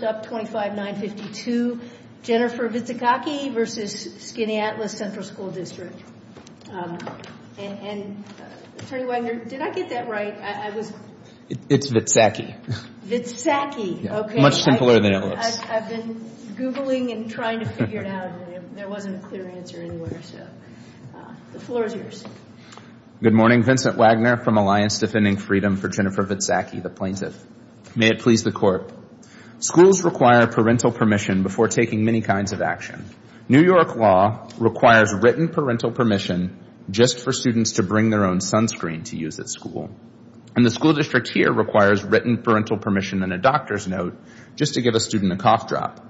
25952, Jennifer Vitsaxaki v. Skaneateles Central School District. And Attorney Wagner, did I get that right? It's Vitsaxaki. Vitsaxaki, okay. Much simpler than it looks. I've been googling and trying to figure it out and there wasn't a clear answer anywhere. The floor is yours. Good morning, Vincent Wagner from Alliance Defending Freedom for Jennifer Vitsaxaki, the plaintiff. May it please the court. Schools require parental permission before taking many kinds of actions. New York law requires written parental permission just for students to bring their own sunscreen to use at school. And the school district here requires written parental permission and a doctor's note just to give a student a cough drop.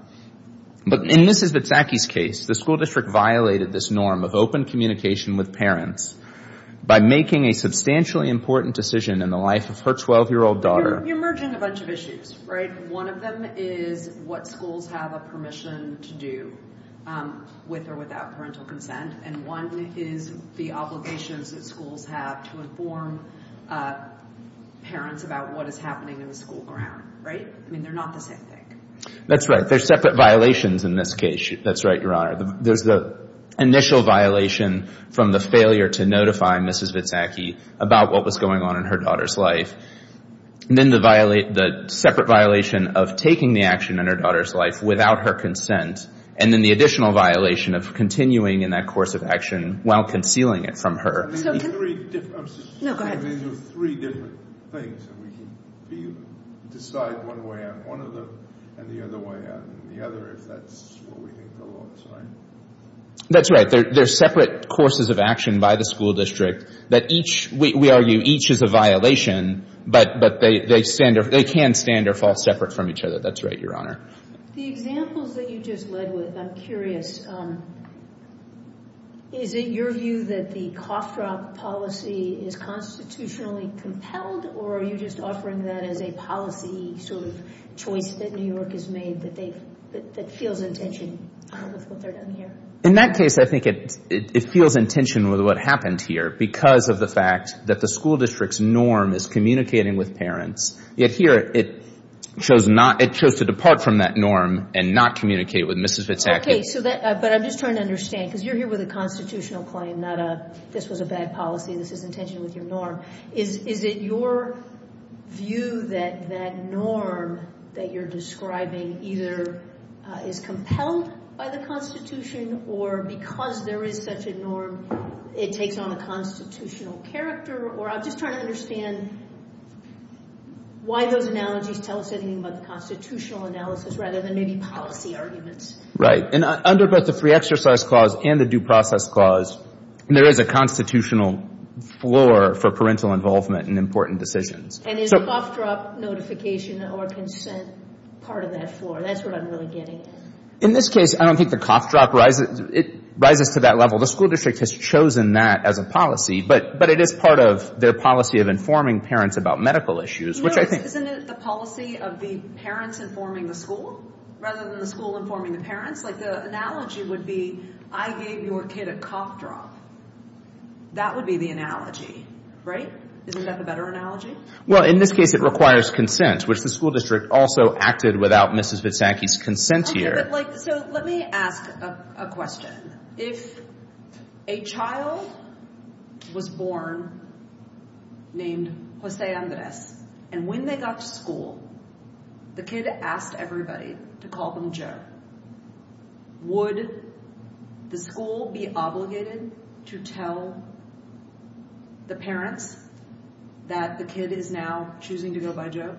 But in Mrs. Vitsaxaki's case, the school district violated this norm of open communication with parents by making a substantially important decision in the life of her 12-year-old daughter. You're merging a bunch of issues, right? One of them is what schools have a permission to do with or without parental consent. And one is the obligations that schools have to inform parents about what is happening in the school grounds, right? I mean, they're not the same thing. That's right. They're separate violations in this case. That's right, Your Honor. The initial violation from the failure to notify Mrs. Vitsaxaki about what was going on in her daughter's life, and then the separate violation of taking the action in her daughter's life without her consent, and then the additional violation of continuing in that course of action while concealing it from her. No, go ahead. That's right. They're separate courses of action by the school district. We argue each is a violation, but they can stand or fall separate from each other. That's right, Your Honor. The examples that you just led with, I'm curious, is it your view that the cough drop policy is constitutionally compelled, or are you just offering that as a policy sort of choice that New York has made that feels intention? In that case, I think it feels intention with what happened here, because of the fact that the school district's norm is communicating with parents. Yet here, it shows to depart from that norm and not communicate with Mrs. Vitsaxaki. Okay, but I'm just trying to understand, because you're here with a constitutional claim, not a this was a bad policy, this is intention with your norm. Is it your view that that norm that you're describing either is compelled by the Constitution, or because there is such a norm, it takes on a constitutional character, or I'm just trying to understand why those analogies tell us anything but constitutional analysis rather than maybe policy arguments. Right, and under both the free exercise clause and the due process clause, there is a constitutional floor for parental involvement in important decisions. And is cough drop notification or consent part of that floor? That's what I'm really getting at. In this case, I don't think the cough drop rises to that level. The school district has chosen that as a policy, but it is part of their policy of informing parents about medical issues. Isn't it the policy of the parents informing the school, rather than the school informing the parents? Like the analogy would be, I gave your kid a cough drop. That would be the analogy, right? Isn't that the better analogy? Well, in this case it requires consent, which the school district also acted without Mrs. Vitsaxaki's consent here. Let me ask a question. If a child was born named Jose Andres, and when they got to school, the kid asked everybody to call them Joe, would the school be obligated to tell the parents that the kid is now choosing to go by Joe?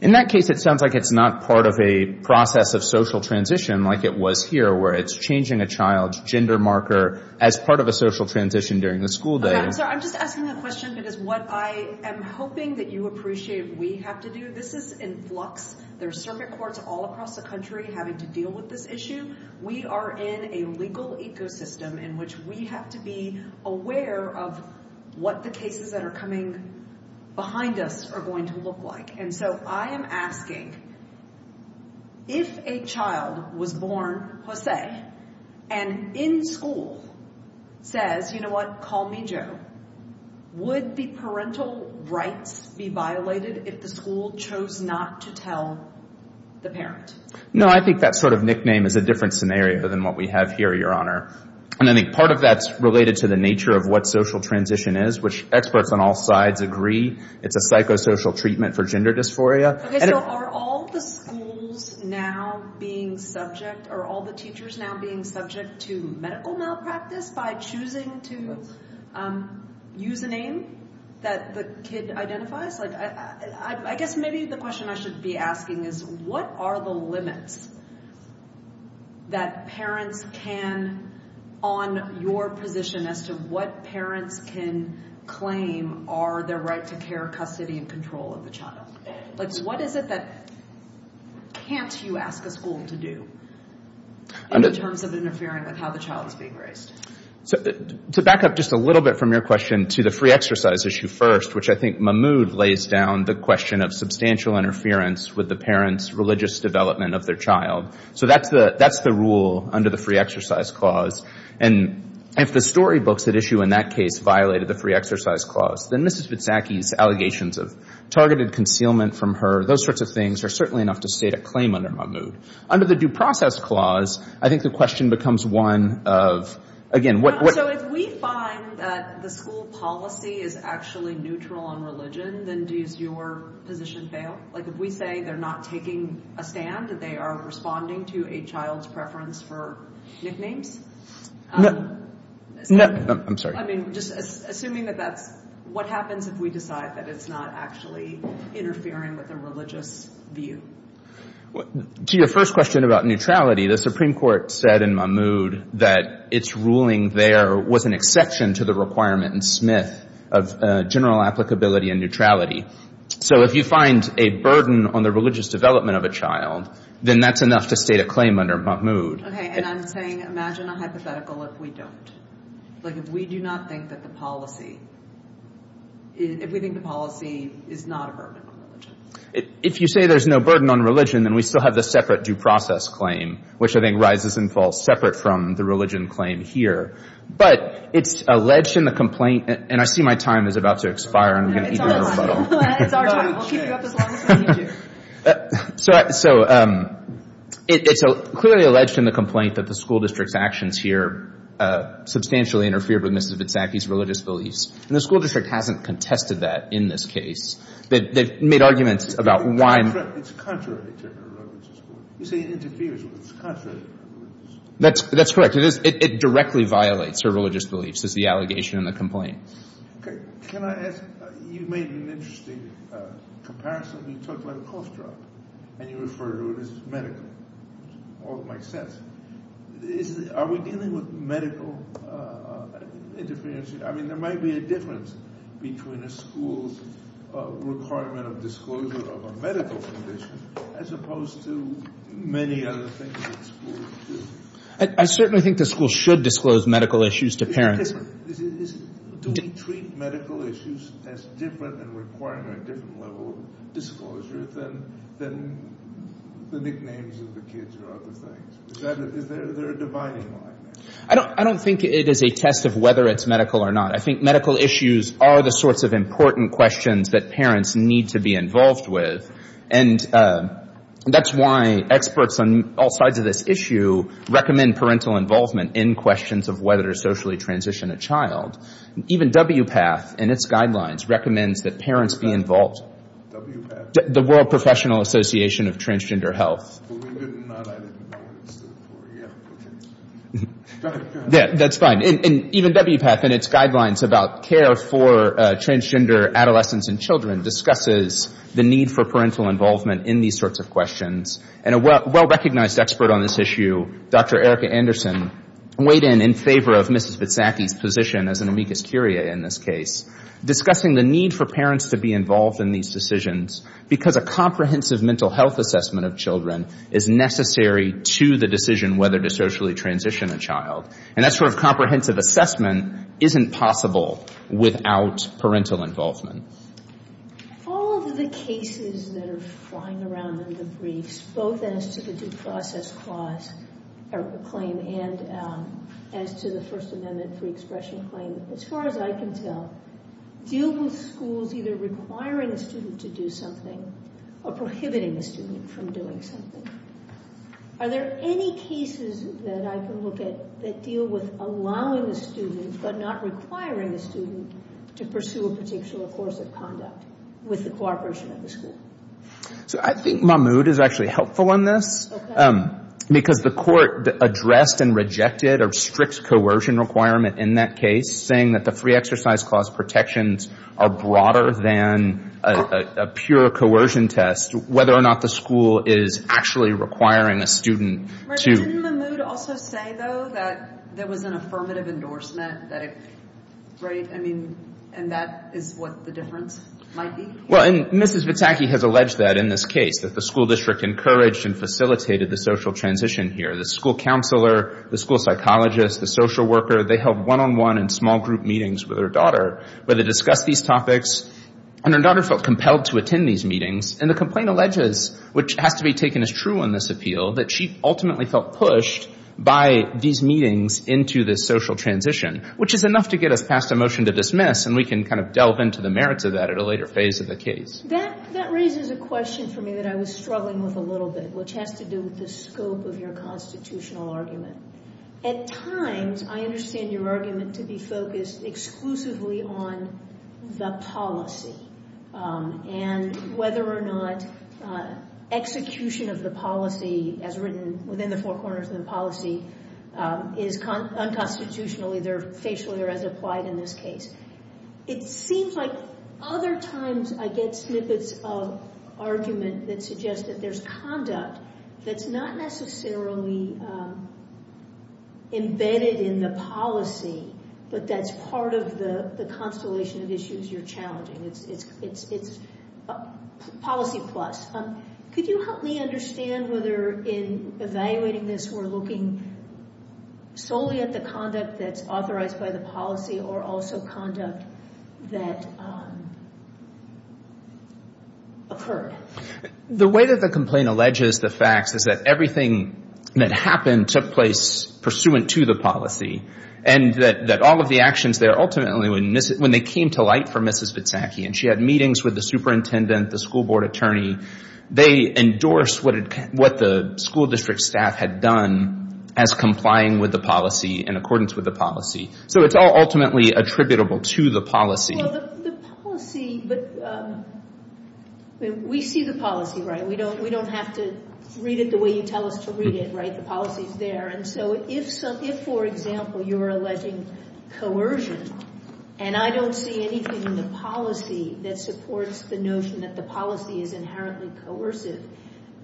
In that case, it sounds like it's not part of a process of social transition like it was here, where it's changing a child's gender marker as part of a social transition during the school day. I'm just asking a question that is what I am hoping that you appreciate we have to do. This is in flux. There are circuit courts all across the country having to deal with this issue. We are in a legal ecosystem in which we have to be aware of what the cases that are coming behind us are going to look like. And so I am asking, if a child was born Jose, and in school says, you know what, call me Joe, would the parental rights be violated if the school chose not to tell the parents? No, I think that sort of nickname is a different scenario than what we have here, Your Honor. And I think part of that is related to the nature of what social transition is, which experts on all sides agree. It's a psychosocial treatment for gender dysphoria. Are all the schools now being subject, are all the teachers now being subject to medical malpractice by choosing to use a name that the kid identifies? I guess maybe the question I should be asking is, what are the limits that parents can, on your position as to what parents can claim are their right to care, custody, and control of the child? Like what is it that can't you ask a school to do in terms of interfering with how the child is being raised? To back up just a little bit from your question to the free exercise issue first, which I think Mahmoud lays down the question of substantial interference with the parents' religious development of their child. So that's the rule under the free exercise clause. And if the storybooks at issue in that case violated the free exercise clause, then Mrs. Witsnacki's allegations of targeted concealment from her, those sorts of things, are certainly enough to state a claim under Mahmoud. Under the due process clause, I think the question becomes one of, again, So if we find that the school policy is actually neutral on religion, then does your position fail? Like if we say they're not taking a stand, that they are responding to a child's preference for sniffing? No, I'm sorry. I mean, just assuming that that's, what happens if we decide that it's not actually interfering with a religious view? To your first question about neutrality, the Supreme Court said in Mahmoud that its ruling there was an exception to the requirement in Smith of general applicability and neutrality. So if you find a burden on the religious development of a child, then that's enough to state a claim under Mahmoud. Okay, and I'm saying imagine a hypothetical if we don't. Like if we do not think that the policy, if we think the policy is not a burden. If you say there's no burden on religion, then we still have the separate due process claim, which I think rises and falls separate from the religion claim here. But it's alleged in the complaint, and I see my time is about to expire. So it's clearly alleged in the complaint that the school district's actions here substantially interfered with Mrs. Mitsaki's religious beliefs. And the school district hasn't contested that in this case. They've made arguments about why... That's correct. It directly violates her religious beliefs. That's the allegation in the complaint. Can I ask, you made an interesting comparison. You talked about a course drop, and you referred to it as medical. All that makes sense. Are we dealing with medical interferences? I mean, there might be a difference between a school's requirement of disclosure of a medical condition as opposed to many other things that schools do. I certainly think the school should disclose medical issues to parents. Do we treat medical issues as different and require a different level of disclosure than the nicknames of the kids who are out to play? Is there a dividing line? I don't think it is a test of whether it's medical or not. I think medical issues are the sorts of important questions that parents need to be involved with. And that's why experts on all sides of this issue recommend parental involvement in questions of whether to socially transition a child. Even WPATH, in its guidelines, recommends that parents be involved. The World Professional Association of Transgender Health. That's fine. And even WPATH, in its guidelines about care for transgender adolescents and children, discusses the need for parental involvement in these sorts of questions. And a well-recognized expert on this issue, Dr. Erica Anderson, weighed in in favor of Mrs. Mitsaki's position as an amicus curiae in this case, discussing the need for parents to be involved in these decisions because a comprehensive mental health assessment of children is necessary to the decision whether to socially transition a child. And that sort of comprehensive assessment isn't possible without parental involvement. All of the cases that are flying around in the briefs, both as to the due process claim and to the First Amendment free expression claim, as far as I can tell, deal with schools either requiring a student to do something or prohibiting a student from doing something. Are there any cases that I can look at that deal with allowing a student but not requiring a student to pursue a potential course of conduct with the cooperation of the school? I think Mahmoud is actually helpful on this because the court addressed and rejected a strict coercion requirement in that case, saying that the free exercise clause protections are broader than a pure coercion test. Whether or not the school is actually requiring a student to... Didn't Mahmoud also say, though, that there was an affirmative endorsement? I mean, and that is what the difference might be? Well, and Mrs. Mitsaki has alleged that in this case, that the school district encouraged and facilitated the social transition here. The school counselor, the school psychologist, the social worker, they held one-on-one and small group meetings with her daughter where they discussed these topics. And her daughter felt compelled to attend these meetings. And the complaint alleges, which has to be taken as true in this appeal, that she ultimately felt pushed by these meetings into this social transition, which is enough to get a passed a motion to dismiss, and we can kind of delve into the merits of that at a later phase of the case. That raises a question for me that I was struggling with a little bit, which has to do with the scope of your constitutional argument. At times, I understand your argument to be focused exclusively on the policy and whether or not execution of the policy as written within the four corners of the policy is unconstitutionally, either facially or as applied in this case. It seems like other times I get snippets of argument that suggest that there's conduct that's not necessarily embedded in the policy, but that's part of the constellation of issues you're challenging. It's policy plus. Could you help me understand whether in evaluating this we're looking solely at the conduct that's authorized by the policy or also conduct that occurred? The way that the complaint alleges the fact is that everything that happened took place pursuant to the policy, and that all of the actions there ultimately, when they came to light for Mrs. Zitzaki and she had meetings with the superintendent, the school board attorney, they endorsed what the school district staff had done as complying with the policy in accordance with the policy. So it's all ultimately attributable to the policy. The policy, but we see the policy, right? We don't have to read it the way you tell us to read it, right? The policy's there. And so if, for example, you're alleging coercion, and I don't see anything in the policy that supports the notion that the policy is inherently coercive,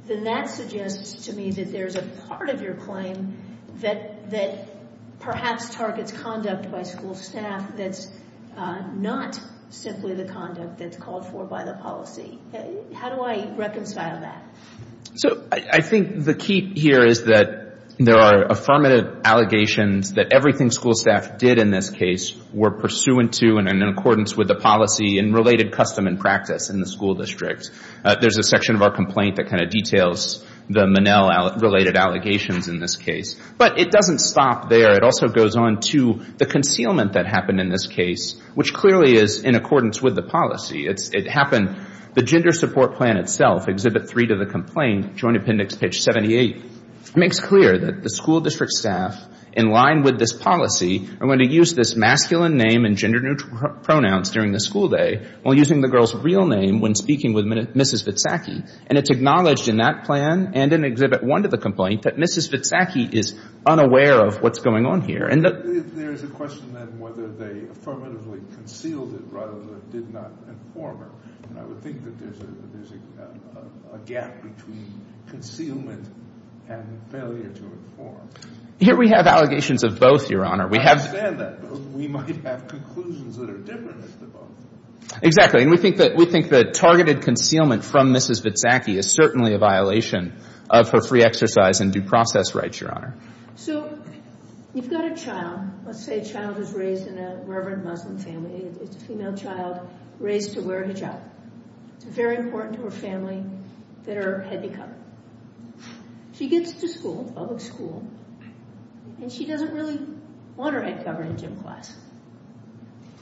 then that suggests to me that there's a part of your claim that perhaps targets conduct by school staff that's not simply the conduct that's called for by the policy. How do I reconcile that? So I think the key here is that there are affirmative allegations that everything school staff did in this case were pursuant to and in accordance with the policy and related custom and practice in the school district. There's a section of our complaint that kind of details the Manelle-related allegations in this case. But it doesn't stop there. It also goes on to the concealment that happened in this case, which clearly is in accordance with the policy. The gender support plan itself, Exhibit 3 to the complaint, Joint Appendix Pitch 78, makes clear that the school district staff, in line with this policy, are going to use this masculine name and gender neutral pronouns during the school day while using the girl's real name when speaking with Mrs. Vitsacky. And it's acknowledged in that plan and in Exhibit 1 to the complaint that Mrs. Vitsacky is unaware of what's going on here. There's a question of whether they affirmatively concealed it rather than did not inform her. And I would think that there's a gap between concealment and failure to inform. Here we have allegations of both, Your Honor. I understand that, but we might have conclusions that are different if they're both. Exactly. And we think that targeted concealment from Mrs. Vitsacky is certainly a violation of her free exercise and due process rights, Your Honor. So, you've got a child. Let's say a child is raised in a reverent Muslim family. It's a female child raised to wear a hijab. It's very important to her family that her head be covered. She gets to school, public school, and she doesn't really want her head covered in gym clothes.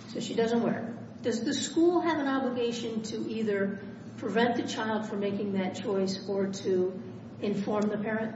So she doesn't wear it. Does the school have an obligation to either prevent the child from making that choice or to inform the parent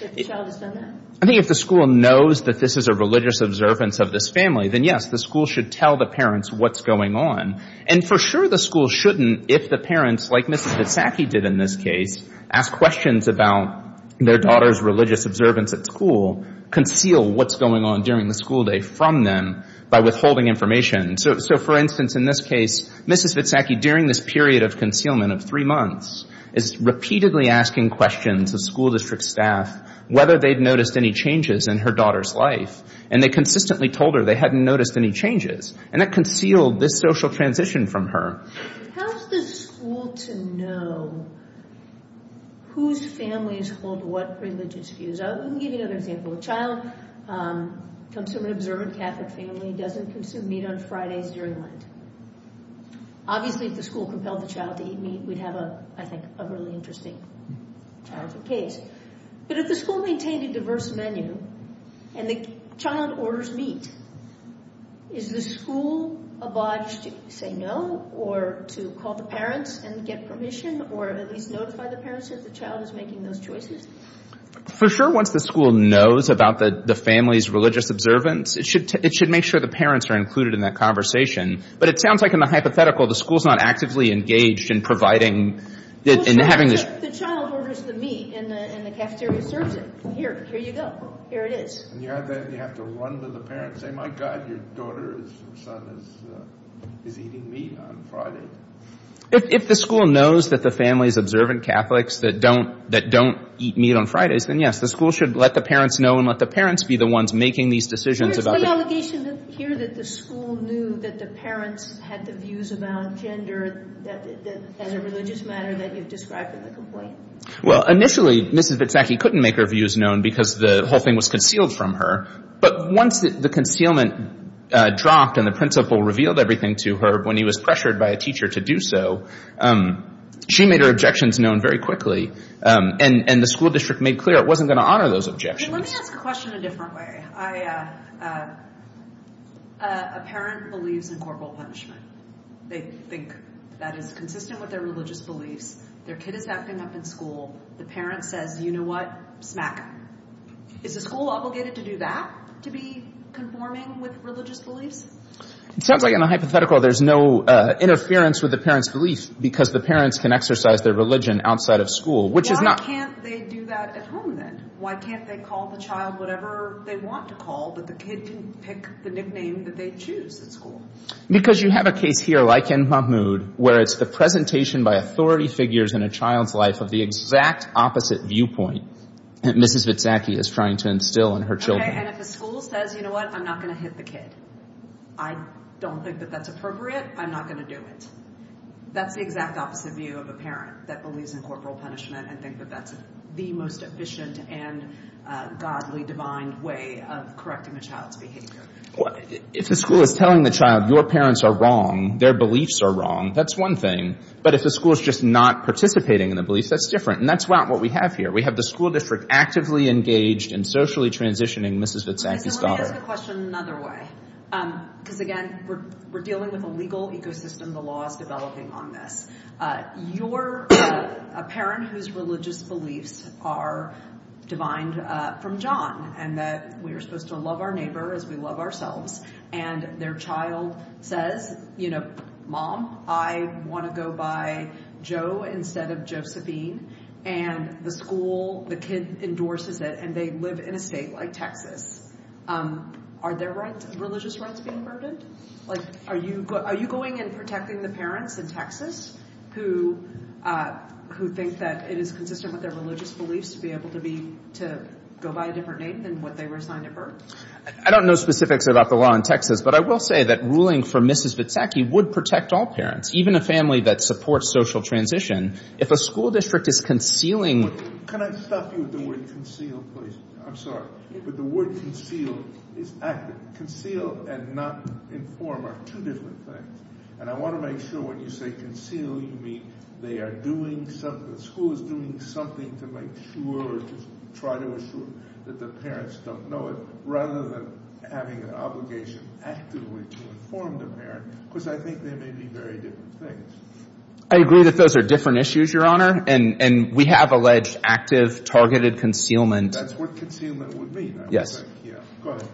that the child has done that? I think if the school knows that this is a religious observance of this family, then yes, the school should tell the parents what's going on. And for sure the school shouldn't, if the parents, like Mrs. Vitsacky did in this case, ask questions about their daughter's religious observance at school, conceal what's going on during the school day from them by withholding information. So, for instance, in this case, Mrs. Vitsacky, during this period of concealment of three months, is repeatedly asking questions of school district staff whether they've noticed any changes in her daughter's life. And they consistently told her they hadn't noticed any changes. And it concealed this social transition from her. How is the school to know whose family is close to what religious views? Let me give you another example. A child comes to an observant Catholic family, doesn't consume meat on Fridays during lunch. Obviously if the school compelled the child to eat meat, we'd have, I think, a really interesting case. But if the school maintained a diverse menu and the child orders meat, is the school obliged to say no or to call the parents and get permission or at least notify the parents that the child is making those choices? For sure once the school knows about the family's religious observance, it should make sure the parents are included in that conversation. But it sounds like in the hypothetical the school's not actively engaged in providing, in having the- The child orders the meat and the cafeteria serves it. Here, here you go. Here it is. You have to run to the parents and say, my God, your daughter's son is eating meat on Friday. If the school knows that the family is observant Catholics that don't eat meat on Fridays, then yes, the school should let the parents know and let the parents be the ones making these decisions about- There's some allegations here that the school knew that the parents had the views about gender that had a religious matter that you've described in the complaint. Well, initially Mrs. Vitsacky couldn't make her views known because the whole thing was concealed from her. But once the concealment dropped and the principal revealed everything to her when he was pressured by a teacher to do so, she made her objections known very quickly. And the school district made clear it wasn't going to honor those objections. Let me ask the question a different way. A parent believes in corporal punishment. They think that it's consistent with their religious beliefs. Their kid is acting up in school. The parent says, you know what, smack him. Is the school obligated to do that, to be conforming with religious beliefs? It sounds like in the hypothetical there's no interference with the parent's beliefs because the parents can exercise their religion outside of school, which is not- Why can't they do that at home then? Why can't they call the child whatever they want to call, but the kid can pick the nickname that they choose in school? Because you have a case here like in Mahmood where it's the presentation by authority figures in a child's life of the exact opposite viewpoint that Mrs. Vitsacky is trying to instill in her children. Okay, and if the school says, you know what, I'm not going to hit the kid, I don't think that that's appropriate, I'm not going to do it. That's the exact opposite view of a parent that believes in corporal punishment and thinks that that's the most efficient and godly, divine way of correcting a child's behavior. If the school is telling the child, your parents are wrong, their beliefs are wrong, that's one thing. But if the school is just not participating in the beliefs, that's different. And that's not what we have here. We have the school that's actively engaged in socially transitioning Mrs. Vitsacky's daughter. Can I ask a question another way? Because, again, we're dealing with a legal ecosystem, the law is developing on this. You're a parent whose religious beliefs are divine from John and that we are supposed to love our neighbor as we love ourselves. And their child says, you know, Mom, I want to go by Joe instead of Josephine. And the school, the kid endorses it and they live in a state like Texas. Are their religious rights being burdened? Are you going and protecting the parents in Texas who think that it is consistent with their religious beliefs to be able to go by a different name than what they were assigned at birth? I don't know specifically about the law in Texas, but I will say that ruling for Mrs. Vitsacky would protect all parents, even a family that supports social transition. If a school district is concealing... Can I stop you with the word concealed, please? I'm sorry, but the word concealed is active. Conceal and not inform are two different things. And I want to make sure what you say, concealing, means they are doing something, the school is doing something to make sure or try to ensure that the parents don't know it, rather than having an obligation actively to inform the parent, because I think they may be very different things. I agree that those are different issues, Your Honor, and we have alleged active, targeted concealment. That's what concealment would be.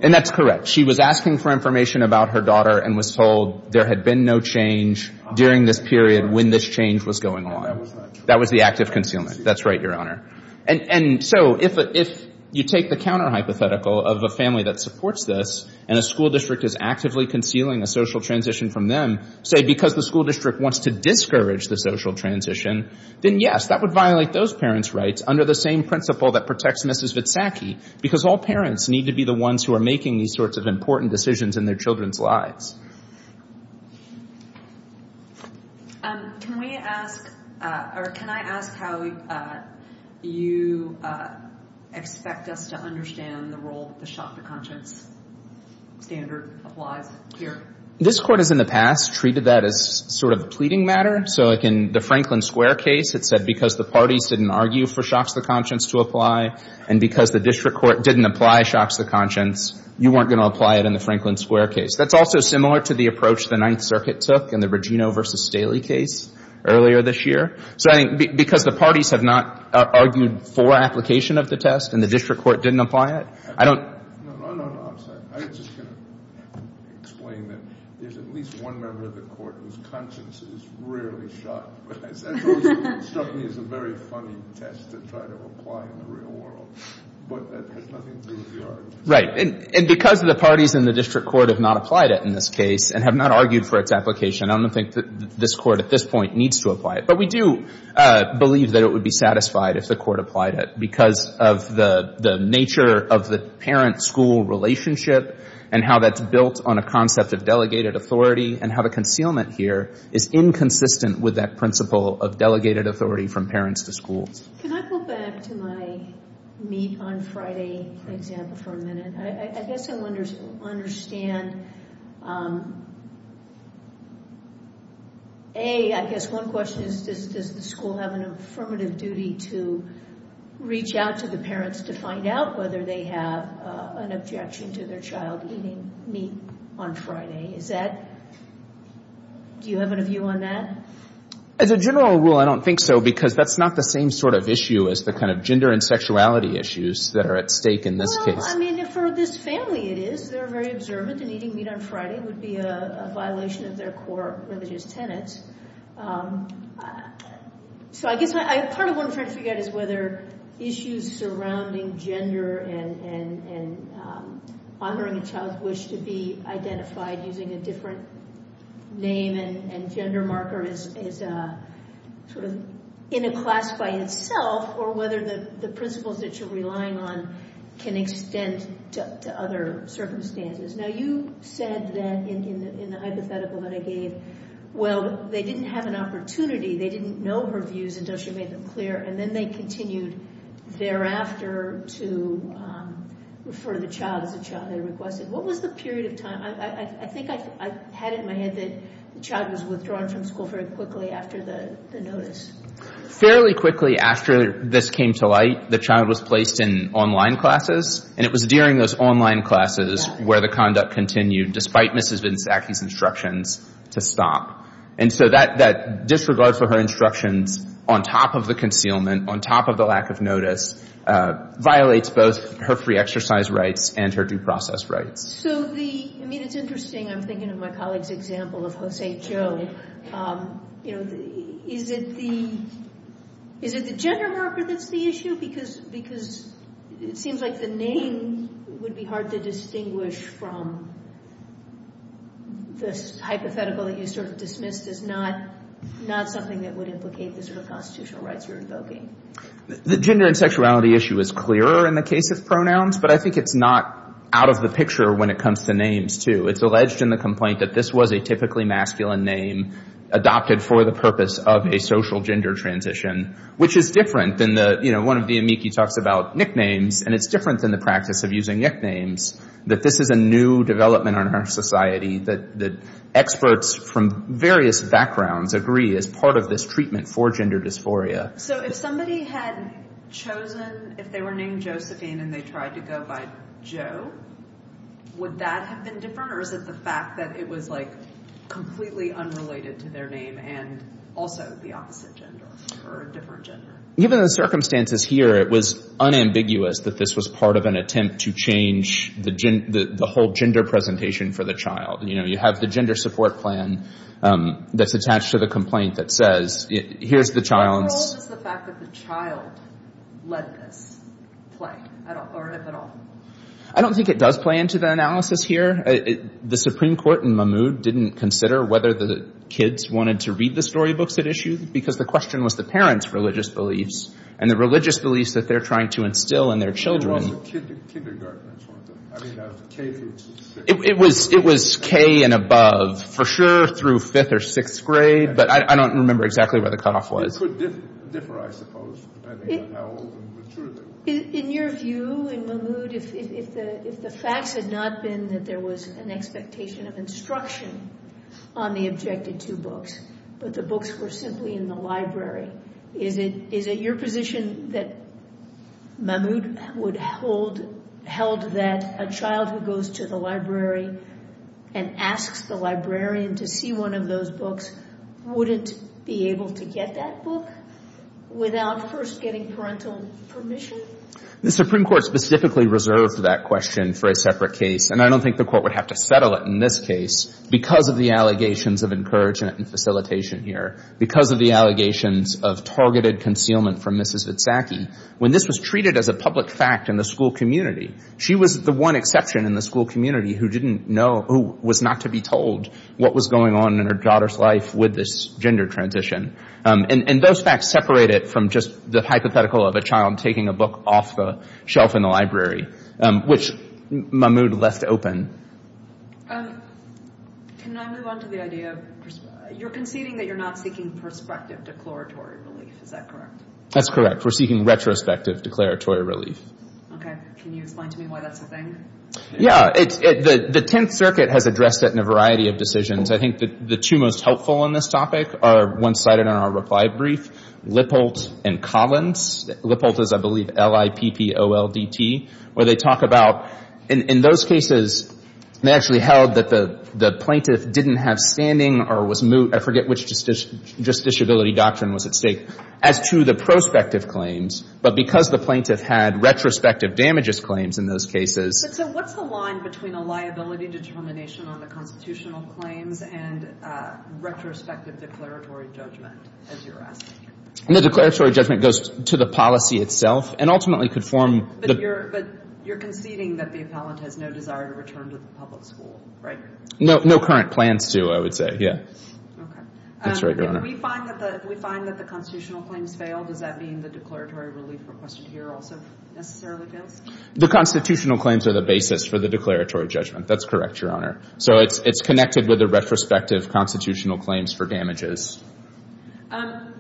And that's correct. She was asking for information about her daughter and was told there had been no change during this period when this change was going on. That was the active concealment. That's right, Your Honor. And so if you take the counter-hypothetical of a family that supports this and a school district is actively concealing a social transition from them, say because the school district wants to discourage the social transition, then yes, that would violate those parents' rights under the same principle that protects Mrs. Witsacki, because all parents need to be the ones who are making these sorts of important decisions in their children's lives. Can we ask, or can I ask how you expect us to understand the role of the shocker-conscious standard of life here? This Court has in the past treated that as sort of a pleading matter. So in the Franklin Square case, it said because the parties didn't argue for shocks of conscience to apply, and because the district court didn't apply shocks of conscience, you weren't going to apply it in the Franklin Square case. That's also similar to the approach the Ninth Circuit took in the Regino v. Staley case earlier this year. So because the parties have not argued for application of the test and the district court didn't apply it, I don't... No, no, no, I'm sorry. I just can't explain that. There's at least one member of the court whose conscience is rarely shocked. And so it certainly is a very funny test to try to apply in the real world. Right, and because the parties in the district court have not applied it in this case and have not argued for its application, I don't think that this court at this point needs to apply it. But we do believe that it would be satisfied if the court applied it because of the nature of the parent-school relationship and how that's built on a concept of delegated authority and how the concealment here is inconsistent with that principle of delegated authority from parents to schools. Can I go back to my meet on Friday example for a minute? I guess I understand, A, I guess one question is, does the school have an affirmative duty to reach out to the parents to find out whether they have an objection to their child eating meat on Friday? Is that... Do you have any view on that? As a general rule, I don't think so because that's not the same sort of issue as the kind of gender and sexuality issues that are at stake in this case. Well, I mean, for this family it is. They're very observant and eating meat on Friday would be a violation of their core religious tenets. So I guess part of what I'm trying to figure out is whether issues surrounding gender and honoring a child's wish to be identified using a different name and gender marker is sort of in a class by itself or whether the principles that you're relying on can extend to other circumstances. Now, you said that in the hypothetical that I gave, well, they didn't have an opportunity. They didn't know her views until she made them clear and then they continued thereafter to refer the child to the child they requested. What was the period of time? I think I had it in my head that the child was withdrawn from school very quickly after the notice. Fairly quickly after this came to light, the child was placed in online classes and it was during those online classes where the conduct continued, despite Mrs. Nzaki's instructions, to stop. And so that disregard for her instructions on top of the concealment, on top of the lack of notice, violates both her free exercise rights and her due process rights. So the, I mean, it's interesting. I'm thinking of my colleague's example of Jose Jo. Is it the gender marker that's the issue? I think because it seems like the name would be hard to distinguish from the hypothetical that you sort of dismissed as not something that would implicate the sort of constitutional rights you're invoking. The gender and sexuality issue is clearer in the case of pronouns, but I think it's not out of the picture when it comes to names, too. It's alleged in the complaint that this was a typically masculine name adopted for the purpose of a social gender transition, which is different than the, you know, one of the amici talked about nicknames, and it's different than the practice of using nicknames, that this is a new development in our society, that experts from various backgrounds agree is part of this treatment for gender dysphoria. So if somebody had chosen, if they were named Josephine and they tried to go by Jo, would that have been different, or is it the fact that it was, like, the opposite gender, or a different gender? Given the circumstances here, it was unambiguous that this was part of an attempt to change the whole gender presentation for the child. You know, you have the gender support plan that's attached to the complaint that says, here's the child. What role does the fact that the child led this play, or is at all? I don't think it does play into the analysis here. The Supreme Court in Mahmoud didn't consider whether the kids wanted to read the storybooks it issued, because the question was the parents' religious beliefs, and the religious beliefs that they're trying to instill in their children. It was K and above, for sure, through 5th or 6th grade, but I don't remember exactly where the cutoff was. It could differ, I suppose. In your view, in Mahmoud, if the fact had not been that there was an expectation of instruction on the objected two books, but the books were simply in the library, is it your position that Mahmoud held that a child who goes to the library and asks the librarian to see one of those books wouldn't be able to get that book without first getting parental permission? The Supreme Court specifically reserved that question for a separate case, and I don't think the Court would have to settle it in this case, because of the allegations of encouragement and facilitation here, because of the allegations of targeted concealment from Mrs. Itzhaki. When this was treated as a public fact in the school community, she was the one exception in the school community who didn't know, who was not to be told what was going on in her daughter's life with this gender transition. And those facts separate it from just the hypothetical of a child taking a book off the shelf in the library, which Mahmoud left open. You're conceding that you're not seeking prospective declaratory relief, is that correct? That's correct. We're seeking retrospective declaratory relief. Okay. Can you explain to me why that's a thing? Yeah. The Tenth Circuit has addressed that in a variety of decisions. I think the two most helpful on this topic are one cited in our reply brief, Lippoldt and Collins. Lippoldt is, I believe, L-I-P-P-O-L-D-T, where they talk about, in those cases, they actually held that the plaintiff didn't have standing or was moot, I forget which justiciability doctrine was at stake, as to the prospective claims, but because the plaintiff had retrospective damages claims in those cases... So what's the line between a liability determination on the constitutional claims and retrospective declaratory judgment, as you're asking? No, declaratory judgment goes to the policy itself and ultimately could form... But you're conceding that the appellant has no desire to return to the public school, right? No current plan to, I would say, yeah. If we find that the constitutional claims fail, does that mean the declaratory relief requested here also isn't necessarily good? The constitutional claims are the basis for the declaratory judgment. That's correct, Your Honor. So it's connected with the retrospective constitutional claims for damages.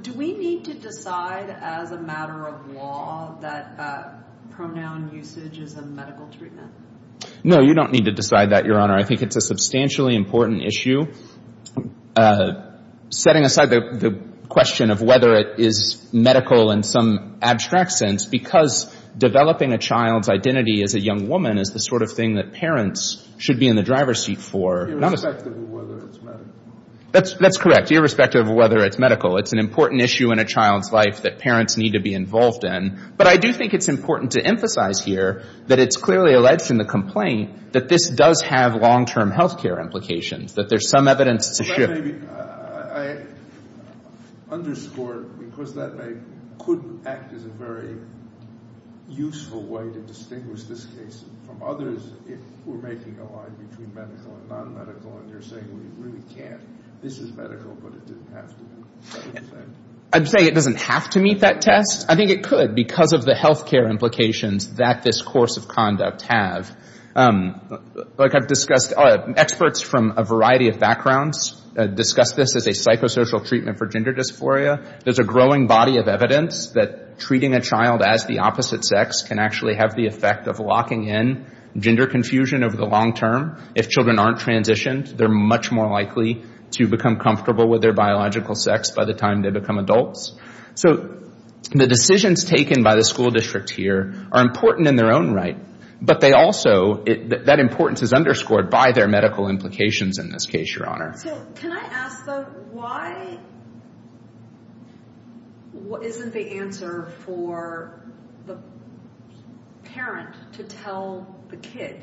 Do we need to decide as a matter of law that pronoun usage is a medical treatment? No, you don't need to decide that, Your Honor. I think it's a substantially important issue, setting aside the question of whether it is medical in some abstract sense, because developing a child's identity as a young woman is the sort of thing that parents should be in the driver's seat for. Irrespective of whether it's medical. That's correct, irrespective of whether it's medical. It's an important issue in a child's life that parents need to be involved in. But I do think it's important to emphasize here that it's clearly alleged from the complaint that this does have long-term health care implications, that there's some evidence to show. I underscored because that I couldn't act as a very useful way to distinguish this case from others who are making the line between medical and non-medical, and they're saying we really can't. This is medical, but it doesn't have to be. I'm saying it doesn't have to meet that test. I think it could because of the health care implications that this course of conduct has. Like I've discussed, experts from a variety of backgrounds have discussed this as a psychosocial treatment for gender dysphoria. There's a growing body of evidence that treating a child as the opposite sex can actually have the effect of locking in gender confusion over the long term. If children aren't transitioned, they're much more likely to become comfortable with their biological sex by the time they become adults. So the decisions taken by the school districts here are important in their own right, but that importance is underscored by their medical implications in this case, Your Honor. Can I ask, though, why isn't the answer for the parent to tell the kid,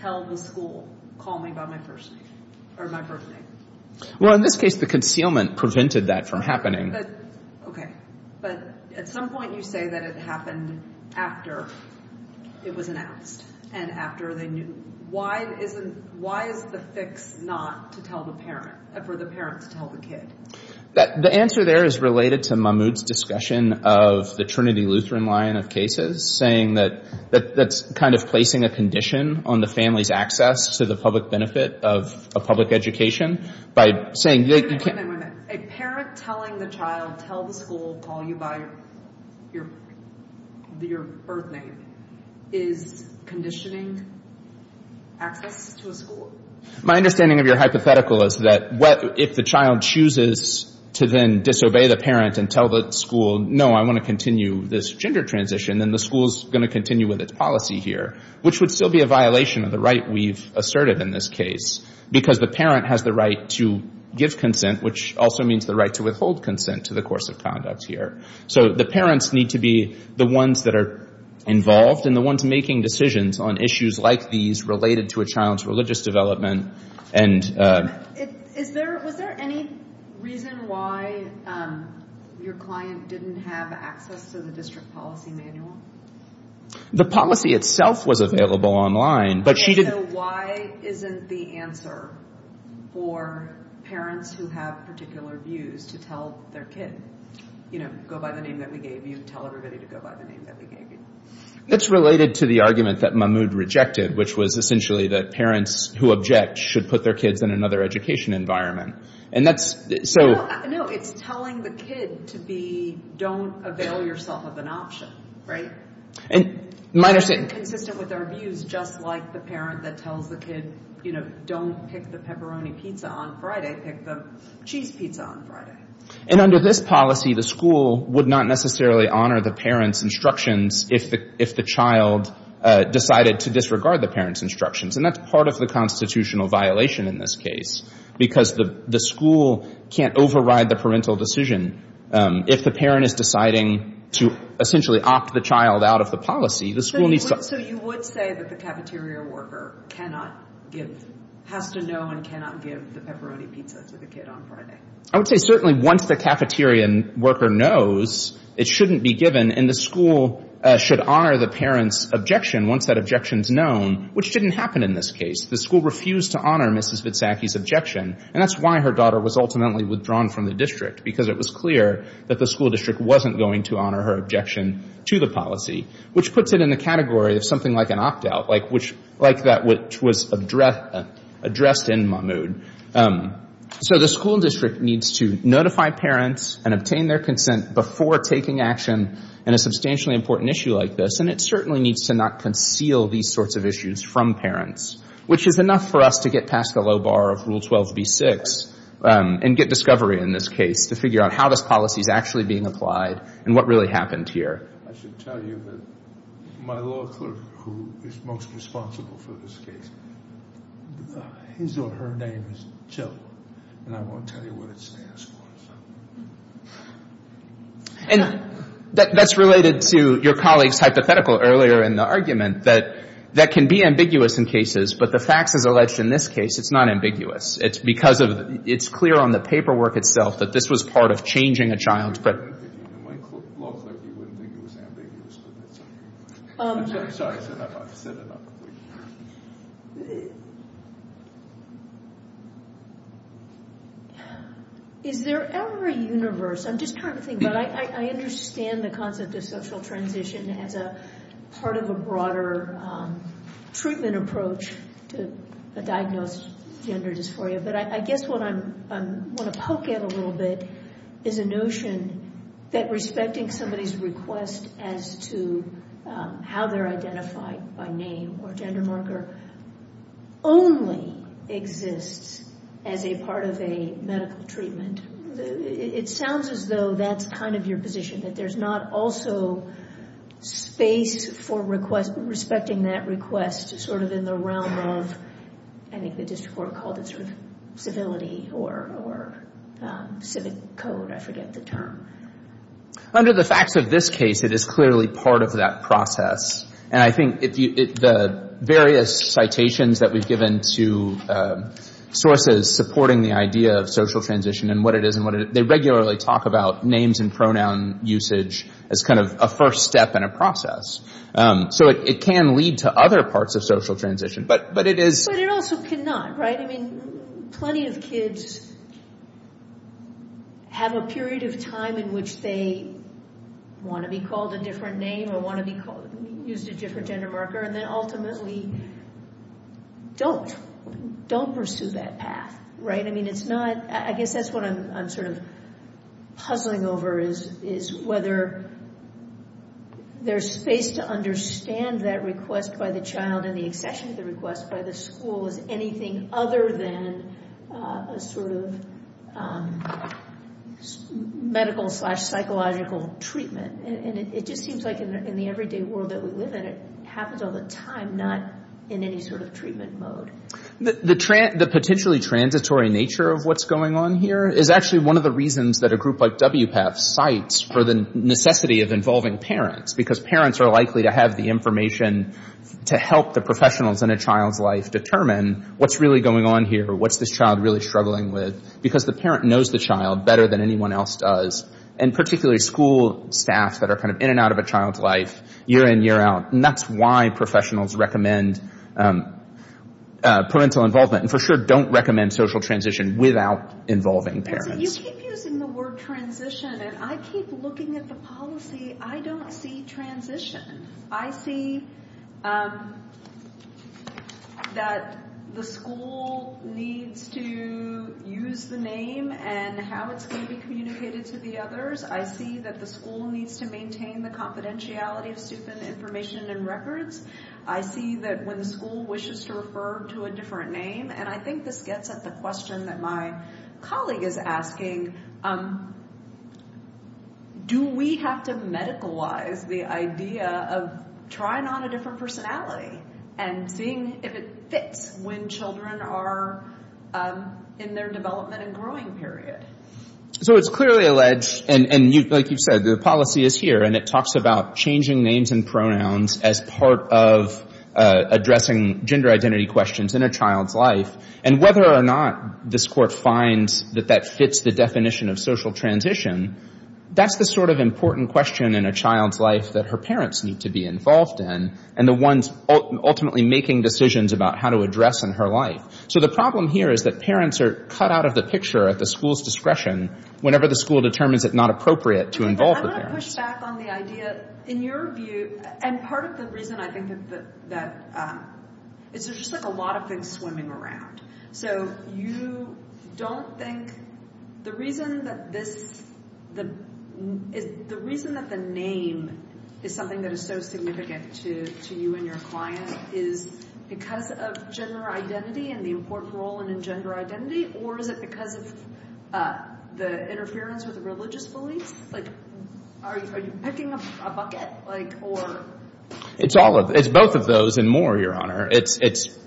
tell the school, call me by my first name? Well, in this case, the concealment prevented that from happening. Okay. But at some point you say that it happened after it was announced and after they knew. Why is the fix not to tell the parent, for the parent to tell the kid? The answer there is related to Mahmoud's discussion of the Trinity Lutheran line of cases, saying that that's kind of placing a condition on the family's access to the public benefit of a public education. Wait a minute. A parent telling the child, tell the school, call you by your first name, is conditioning active to a school? My understanding of your hypothetical is that if the child chooses to then disobey the parent and tell the school, no, I want to continue this gender transition, then the school is going to continue with its policy here, which would still be a violation of the right we've asserted in this case, because the parent has the right to give consent, which also means the right to withhold consent to the course of conduct here. So the parents need to be the ones that are involved and the ones making decisions on issues like these related to a child's religious development. Was there any reason why your client didn't have access to the district policy manual? The policy itself was available online. So why isn't the answer for parents who have particular views to tell their kid, go by the name that we gave you, tell everybody to go by the name that we gave you? It's related to the argument that Mahmoud rejected, which was essentially that parents who object should put their kids in another education environment. No, it's telling the kid to be, don't avail yourself of an option, right? Consistent with their views, just like the parent that tells the kid, don't pick the pepperoni pizza on Friday, pick the cheese pizza on Friday. And under this policy, the school would not necessarily honor the parent's instructions if the child decided to disregard the parent's instructions. And that's part of the constitutional violation in this case because the school can't override the parental decision. If the parent is deciding to essentially opt the child out of the policy, the school needs to... So you would say that the cafeteria worker cannot give, has to know and cannot give the pepperoni pizza to the kid on Friday? I would say certainly once the cafeteria worker knows, it shouldn't be given. And the school should honor the parent's objection once that objection is known, which didn't happen in this case. The school refused to honor Mrs. Vitsaki's objection. And that's why her daughter was ultimately withdrawn from the district, because it was clear that the school district wasn't going to honor her objection to the policy, which puts it in the category of something like an opt-out, like that which was addressed in Mahmoud. So the school district needs to notify parents and obtain their consent before taking action in a substantially important issue like this, and it certainly needs to not conceal these sorts of issues from parents, which is enough for us to get past the low bar of Rule 12b-6 and get discovery in this case to figure out how this policy is actually being applied and what really happened here. I should tell you that my law clerk, who is most responsible for this case, his or her name is Joe, and I won't tell you what it stands for. And that's related to your colleague's hypothetical earlier in the argument, that that can be ambiguous in cases, but the facts as alleged in this case, it's not ambiguous. It's because it's clear on the paperwork itself that this was part of changing a child's pregnancy. And my law clerk, he wouldn't make it as ambiguous as that. Sorry, I said that about a minute ago. Is there ever a universe? I'm just trying to think, but I understand the concept of social transition as part of a broader treatment approach to diagnose gender dysphoria, but I guess what I want to poke at a little bit is a notion that respecting somebody's request as to how they're identified by name or gender marker only exists as a part of a medical treatment. It sounds as though that's kind of your position, that there's not also space for respecting that request as sort of in the realm of, I think the district court called it sort of civility or civic code, I forget the term. Under the facts of this case, it is clearly part of that process, and I think the various citations that we've given to sources supporting the idea of social transition and what it is and what it is, they regularly talk about names and pronoun usage as kind of a first step in a process. So it can lead to other parts of social transition, but it is... But it also cannot, right? I mean, plenty of kids have a period of time in which they want to be called a different name or want to be used a different gender marker, and then ultimately don't pursue that path, right? I guess that's what I'm sort of puzzling over is whether there's space to understand that request by the child and the infection request by the school as anything other than a sort of medical slash psychological treatment. And it just seems like in the everyday world that we live in, it happens all the time, not in any sort of treatment mode. The potentially transitory nature of what's going on here is actually one of the reasons that a group like WPATH cites for the necessity of involving parents, because parents are likely to have the information to help the professionals in a child's life determine what's really going on here, what's this child really struggling with, because the parent knows the child better than anyone else does, and particularly school staff that are kind of in and out of a child's life year in, year out. And that's why professionals recommend parental involvement and for sure don't recommend social transition without involving parents. You keep using the word transition, and I keep looking at the policy. I don't see transition. I see that the school needs to use the name and how it's going to be communicated to the others. I see that the school needs to maintain the confidentiality of student information and records. I see that when the school wishes to refer to a different name, and I think this gets at the question that my colleague is asking, do we have to medicalize the idea of trying on a different personality and seeing if it fits when children are in their development and growing period? So it's clearly alleged, and like you said, the policy is here, and it talks about changing names and pronouns as part of addressing gender identity questions in a child's life, and whether or not this court finds that that fits the definition of social transition, that's the sort of important question in a child's life that her parents need to be involved in and the ones ultimately making decisions about how to address in her life. So the problem here is that parents are cut out of the picture at the school's discretion whenever the school determines it's not appropriate to involve the parents. I want to push back on the idea. In your view, and part of the reason I think is that there's just a lot of things swimming around. So you don't think the reason that the name is something that is so significant to you and your client is because of gender identity and the important role in gender identity, or because of the interference of religious beliefs? Are you picking a bucket? It's both of those and more, Your Honor. It's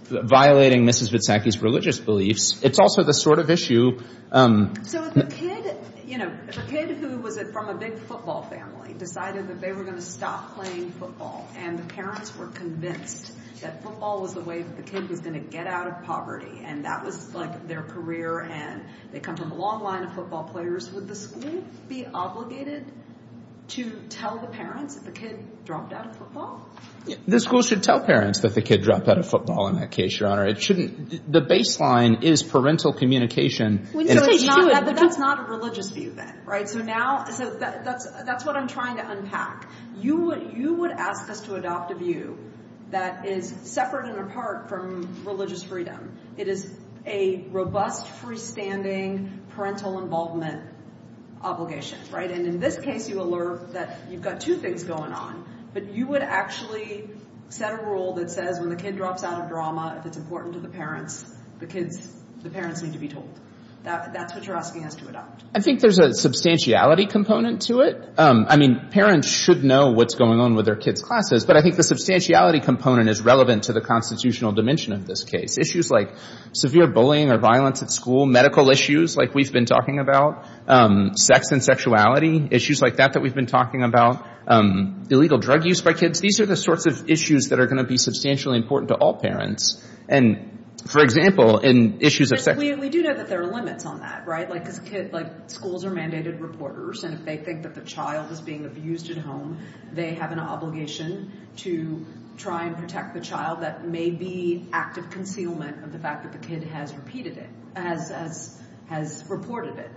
violating Mrs. Vitsacky's religious beliefs. It's also the sort of issue— So the kid who was from a big football family decided that they were going to stop playing football, and the parents were convinced that football was the way that the kid was going to get out of poverty. And that was their career, and it comes with a long line of football players. Would the school be obligated to tell the parents that the kid dropped out of football? The school should tell parents that the kid dropped out of football in that case, Your Honor. The baseline is parental communication. But that's not a religious view then, right? So that's what I'm trying to unpack. You would ask us to adopt a view that is separate and apart from religious freedom. It is a robust, freestanding parental involvement obligation, right? And in this case, you alert that you've got two things going on, but you would actually set a rule that says when the kid drops out of drama, if it's important to the parents, the parents need to be told. That's what you're asking us to adopt. I think there's a substantiality component to it. I mean, parents should know what's going on with their kid's classes, but I think the substantiality component is relevant to the constitutional dimension of this case. Issues like severe bullying or violence at school, medical issues like we've been talking about, sex and sexuality, issues like that that we've been talking about, illegal drug use by kids, these are the sorts of issues that are going to be substantially important to all parents. And, for example, in issues of sex- We do know that there are limits on that, right? Like schools are mandated reporters, and if they think that the child is being abused at home, they have an obligation to try and protect the child. That may be active concealment of the fact that the kid has reported it.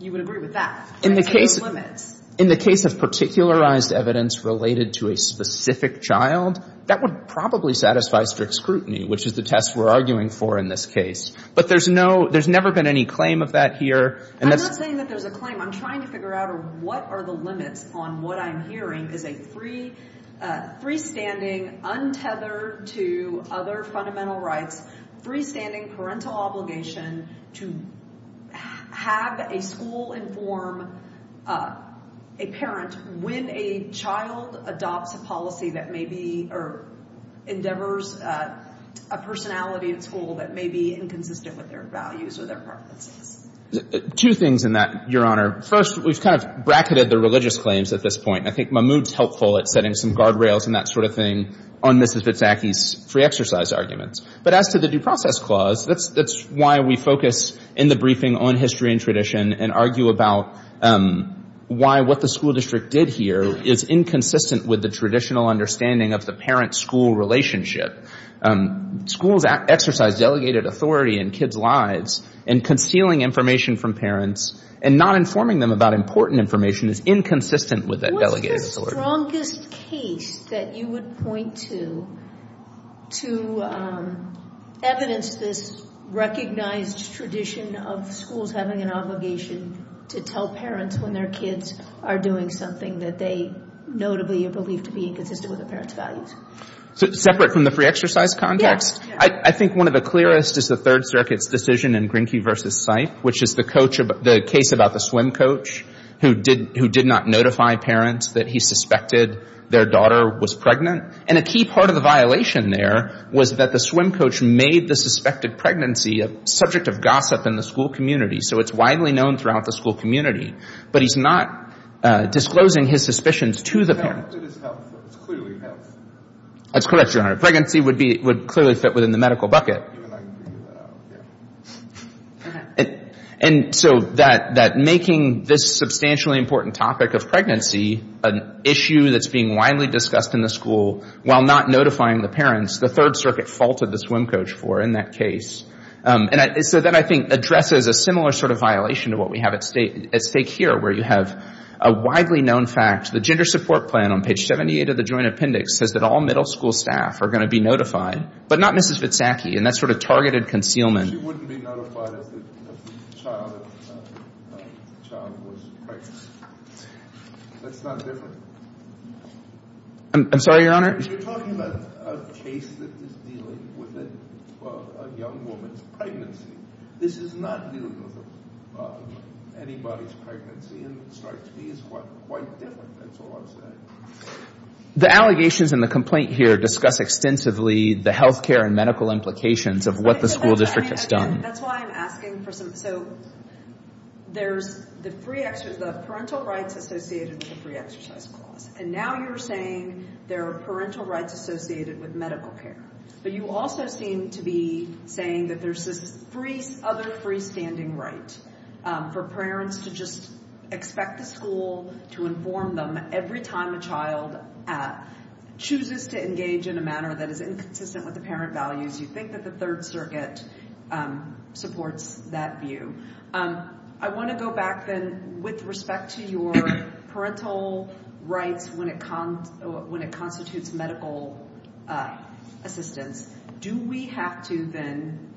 You would agree with that? In the case of particularized evidence related to a specific child, that would probably satisfy strict scrutiny, which is the test we're arguing for in this case. But there's never been any claim of that here. I'm not saying that there's a claim. I'm trying to figure out what are the limits on what I'm hearing. Is it freestanding, untethered to other fundamental rights, freestanding parental obligation to have a school inform a parent when a child adopts a policy or endeavors a personality at school that may be inconsistent with their values or their preferences? Two things in that, Your Honor. First, we've kind of bracketed the religious claims at this point. I think Mahmoud's helpful at setting some guardrails and that sort of thing on Mrs. Vitsacky's free exercise arguments. But as to the due process clause, that's why we focus in the briefing on history and tradition and argue about why what the school district did here is inconsistent with the traditional understanding of the parent-school relationship. Schools exercise delegated authority in kids' lives, and concealing information from parents and not informing them about important information is inconsistent with that delegated authority. What's the strongest case that you would point to to evidence this recognized tradition of schools having an obligation to tell parents when their kids are doing something that they notably believe to be inconsistent with the parents' values? Separate from the free exercise context? Yes. I think one of the clearest is the Third Circuit's decision in Grinkey v. Seif, which is the case about the swim coach who did not notify parents that he suspected their daughter was pregnant. And a key part of the violation there was that the swim coach made the suspected pregnancy a subject of gossip in the school community, so it's widely known throughout the school community. But he's not disclosing his suspicions to the parents. It's clearly not. That's correct, Your Honor. Pregnancy would clearly fit within the medical bucket. And so that making this substantially important topic of pregnancy an issue that's being widely discussed in the school while not notifying the parents, the Third Circuit faulted the swim coach for in that case. And so that I think addresses a similar sort of violation to what we have at stake here, where you have a widely known fact, the gender support plan on page 78 of the Joint Appendix says that all middle school staff are going to be notified, but not Mrs. Mitsaki, and that's sort of targeted concealment. She wouldn't be notified if the child was pregnant. That's not different. I'm sorry, Your Honor? You're talking about a case that is dealing with a young woman's pregnancy. This is not dealing with anybody's pregnancy, and it starts being quite different. That's all I'm saying. The allegations in the complaint here discuss extensively the health care and medical implications of what the school district has done. That's why I'm asking. So there's the parental rights associated with the free exercise clause, and now you're saying there are parental rights associated with medical care. But you also seem to be saying that there's this other freestanding right for parents to just expect the school to inform them every time a child chooses to engage in a manner that is inconsistent with the parent values. You think that the Third Circuit supports that view. I want to go back then with respect to your parental rights when it constitutes medical assistance. Do we have to then,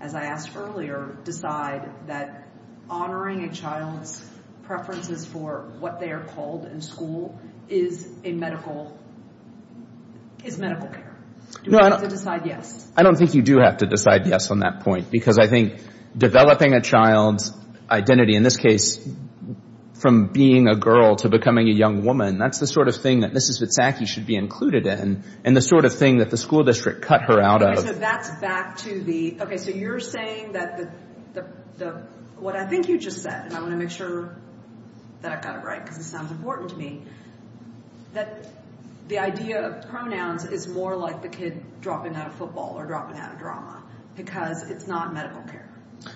as I asked earlier, decide that honoring a child's preferences for what they are called in school is medical care? Do we have to decide yes? I don't think you do have to decide yes on that point because I think developing a child's identity, in this case, from being a girl to becoming a young woman, that's the sort of thing that Mrs. Witsaki should be included in and the sort of thing that the school district cut her out of. So that's back to the... Okay, so you're saying that what I think you just said, and I want to make sure that I've got it right because it sounds important to me, that the idea of pronouns is more like the kid dropping out of football or dropping out of drama because it's not medical care.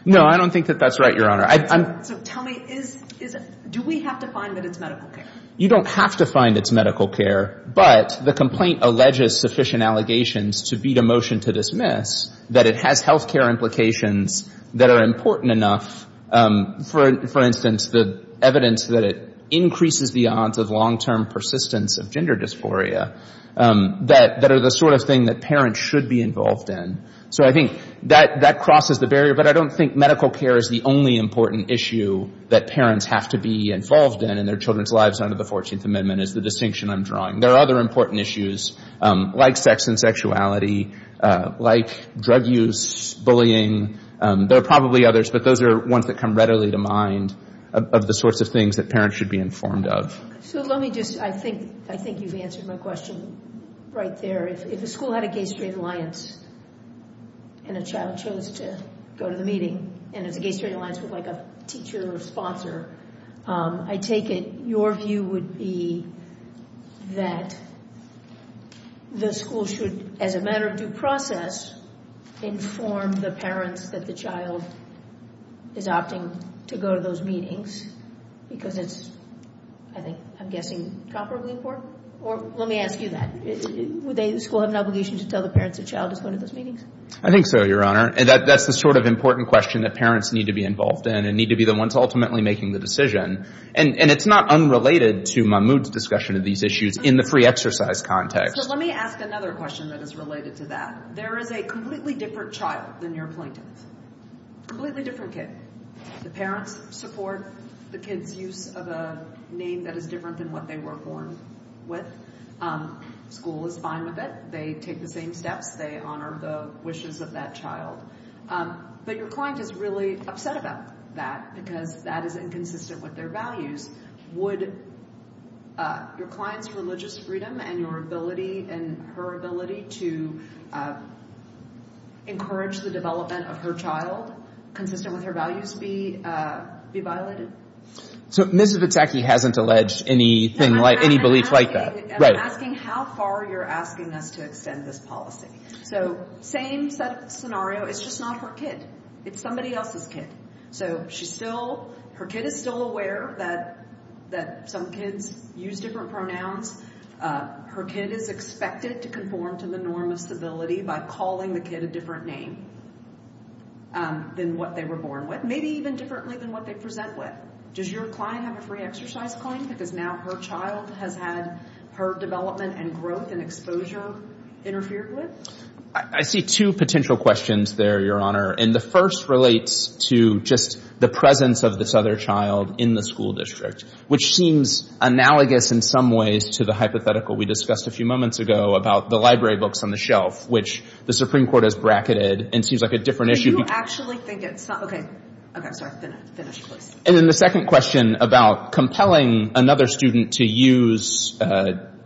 No, I don't think that that's right, Your Honor. So tell me, do we have to find that it's medical care? You don't have to find it's medical care, but the complaint alleges sufficient allegations to beat a motion to dismiss that it has health care implications that are important enough. For instance, the evidence that it increases the odds of long-term persistence of gender dysphoria, that is the sort of thing that parents should be involved in. So I think that crosses the barrier, but I don't think medical care is the only important issue that parents have to be involved in in their children's lives under the 14th Amendment is the distinction I'm drawing. There are other important issues like sex and sexuality, like drug use, bullying. There are probably others, but those are ones that come readily to mind of the sorts of things that parents should be informed of. So let me just, I think you've answered my question right there. If the school had a Gay-Straight Alliance and a child chose to go to the meeting and if the Gay-Straight Alliance was like a teacher or a sponsor, I take it your view would be that the school should, as a matter of due process, inform the parents that the child is opting to go to those meetings because it's, I'm guessing, the proper way forward? Or let me ask you that. Would the school have an obligation to tell the parents the child is going to those meetings? I think so, Your Honor. That's the sort of important question that parents need to be involved in and need to be the ones ultimately making the decision. And it's not unrelated to Mahmoud's discussion of these issues in the free exercise context. So let me ask another question that is related to that. There is a completely different child than your plaintiff. Completely different kid. The parents support the kid's use of a name that is different than what they were born with. School is fine with it. They take the same steps. They honor the wishes of that child. But your client is really upset about that because that is inconsistent with their values. Would your client's religious freedom and her ability to encourage the development of her child consistent with her values be violated? So Mrs. Itzhaki hasn't alleged any belief like that. I'm asking how far you're asking us to extend this policy. So same set of scenario. It's just not her kid. It's somebody else's kid. So her kid is still aware that some kids use different pronouns. Her kid is expected to conform to the norm of civility by calling the kid a different name than what they were born with. Maybe even differently than what they present with. Does your client have a free exercise point because now her child has had her development and growth and exposure interfered with? I see two potential questions there, Your Honor. And the first relates to just the presence of this other child in the school district, which seems analogous in some ways to the hypothetical we discussed a few moments ago about the library books on the shelf, which the Supreme Court has bracketed and seems like a different issue. And then the second question about compelling another student to use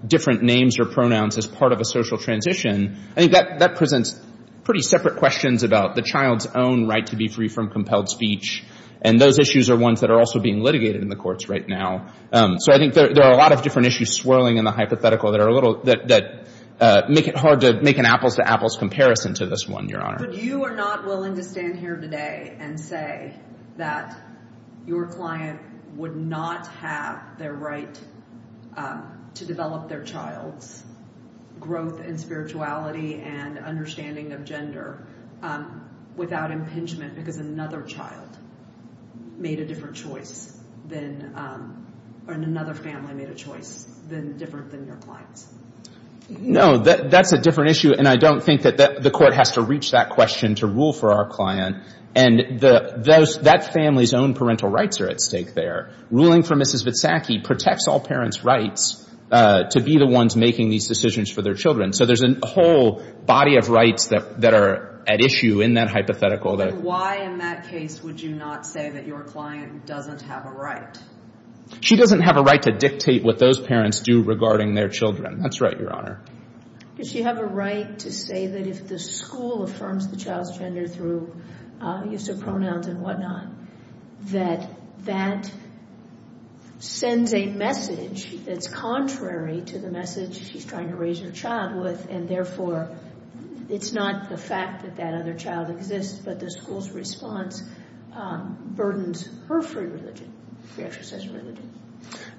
different names or pronouns as part of a social transition, I think that presents pretty separate questions about the child's own right to be free from compelled speech. And those issues are ones that are also being litigated in the courts right now. So I think there are a lot of different issues swirling in the hypothetical that make it hard to make an apples-to-apples comparison to this one, Your Honor. But you are not willing to stand here today and say that your client would not have their right to develop their child's growth and spirituality and understanding of gender without impingement because another child made a different choice, or another family made a choice, than different than their client. No, that's a different issue. And I don't think that the court has to reach that question to rule for our client. And that family's own parental rights are at stake there. Ruling for Mrs. Vitsacki protects all parents' rights to be the ones making these decisions for their children. So there's a whole body of rights that are at issue in that hypothetical. So why in that case would you not say that your client doesn't have a right? She doesn't have a right to dictate what those parents do regarding their children. That's right, Your Honor. Does she have a right to say that if the school affirms the child's gender through use of pronouns and whatnot, that that sends a message that's contrary to the message she's trying to raise her child with, and therefore it's not the fact that that other child exists, but the school's response burdens her free religion, free exercise religion?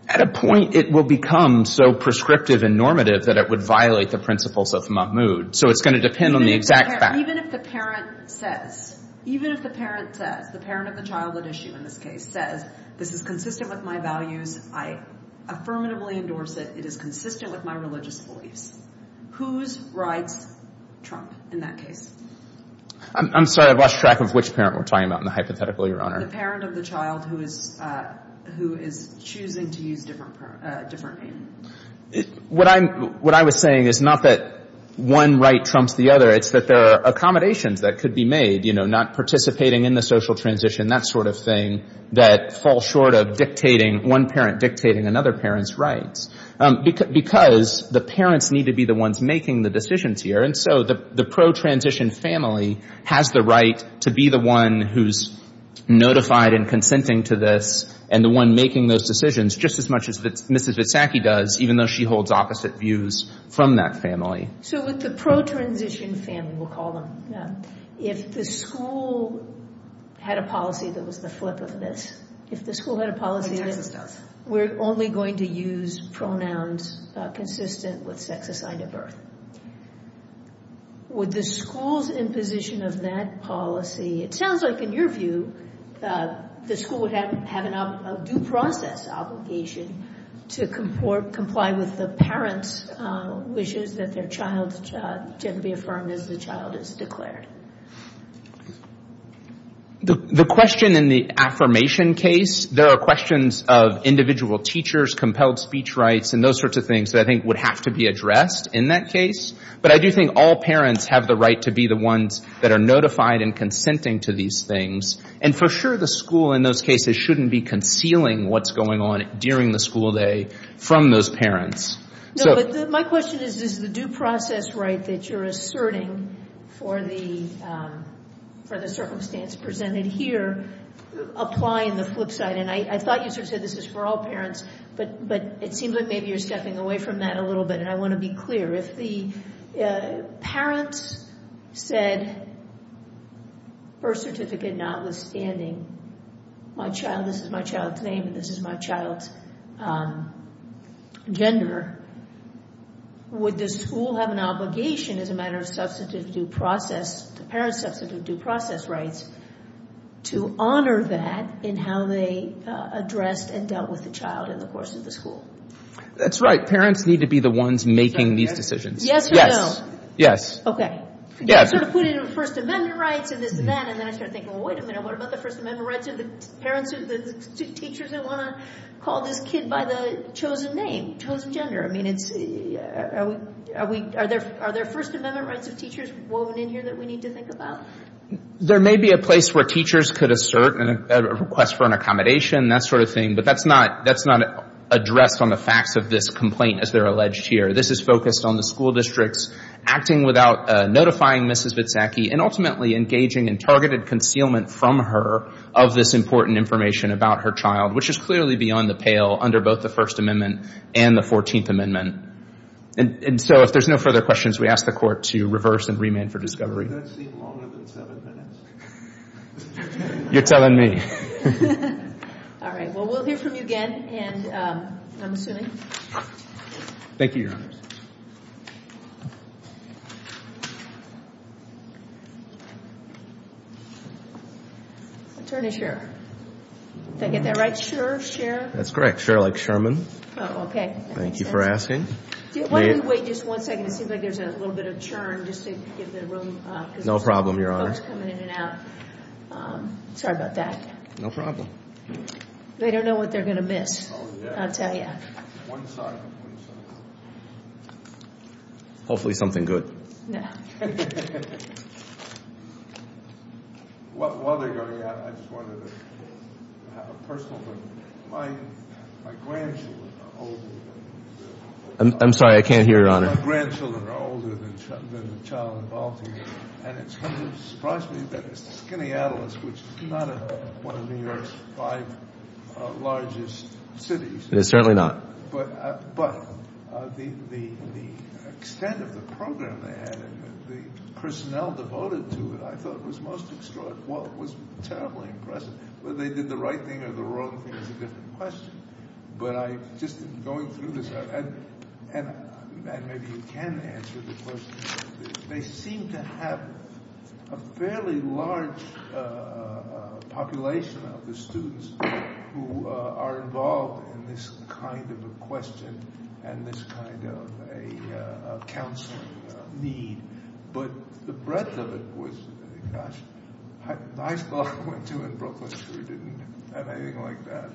At a point it will become so prescriptive and normative that it would violate the principles of Mahmoud. So it's going to depend on the exact facts. Even if the parent says, even if the parent says, the parent of the child at issue in this case says, this is consistent with my values, I affirmatively endorse it, it is consistent with my religious beliefs, whose rights trump in that case? I'm sorry, I've lost track of which parent we're talking about in the hypothetical, Your Honor. The parent of the child who is choosing to use different means. What I was saying is not that one right trumps the other. It's that there are accommodations that could be made, you know, not participating in the social transition, that sort of thing, that fall short of dictating, one parent dictating another parent's rights. Because the parents need to be the ones making the decisions here, and so the pro-transition family has the right to be the one who's notified and consenting to this, and the one making those decisions, just as much as Mrs. Itzhaki does, even though she holds opposite views from that family. So with the pro-transition family, we'll call them, if the school had a policy that was the flip of this, if the school had a policy that we're only going to use pronouns consistent with sex, assignment, birth, would the school's imposition of that policy, it sounds like in your view, the school would have a due process obligation to comply with the parent's wishes that their child can be affirmed as the child is declared? The question in the affirmation case, there are questions of individual teachers, compelled speech rights, and those sorts of things that I think would have to be addressed in that case, but I do think all parents have the right to be the ones that are notified and consenting to these things, and for sure the school in those cases shouldn't be concealing what's going on during the school day from those parents. My question is, is the due process right that you're asserting for the circumstance presented here, applying the flip side, and I thought you said this was for all parents, but it seems like maybe you're stepping away from that a little bit, and I want to be clear. If the parents said birth certificate notwithstanding my child, this is my child's name, this is my child's gender, would the school have an obligation as a matter of substantive due process, the parent's substantive due process rights, to honor that in how they addressed and dealt with the child in the course of the school? That's right. Parents need to be the ones making these decisions. Yes or no? Yes. Okay. Okay. You sort of put in First Amendment rights, and then I started thinking, well, wait a minute, what about the First Amendment rights of the parents of the two teachers who want to call this kid by the chosen name, chosen gender? I mean, are there First Amendment rights of teachers woven in here that we need to think about? There may be a place where teachers could assert a request for an accommodation, that sort of thing, but that's not addressed on the facts of this complaint as they're alleged here. This is focused on the school district's acting without notifying Mrs. Vitsacky and ultimately engaging in targeted concealment from her of this important information about her child, which is clearly beyond the pale under both the First Amendment and the 14th Amendment. And so if there's no further questions, we ask the Court to reverse and remand for discovery. That seemed longer than seven minutes. You're telling me. All right. Well, we'll hear from you again, and I'm assuming. Thank you, Your Honor. Attorney Scherr. Did I get that right? Scherr? That's correct. Scherr, like Sherman. Oh, okay. Thank you for asking. Wait just one second. It seems like there's a little bit of churn. No problem, Your Honor. Sorry about that. No problem. They don't know what they're going to miss, I'll tell you. Hopefully something good. I'm sorry, I can't hear you, Your Honor. Certainly not. ...who are involved in this kind of a question and this kind of a counseling need. But the breadth of it was, gosh, my father went to and broke my spirit. It didn't have anything like that.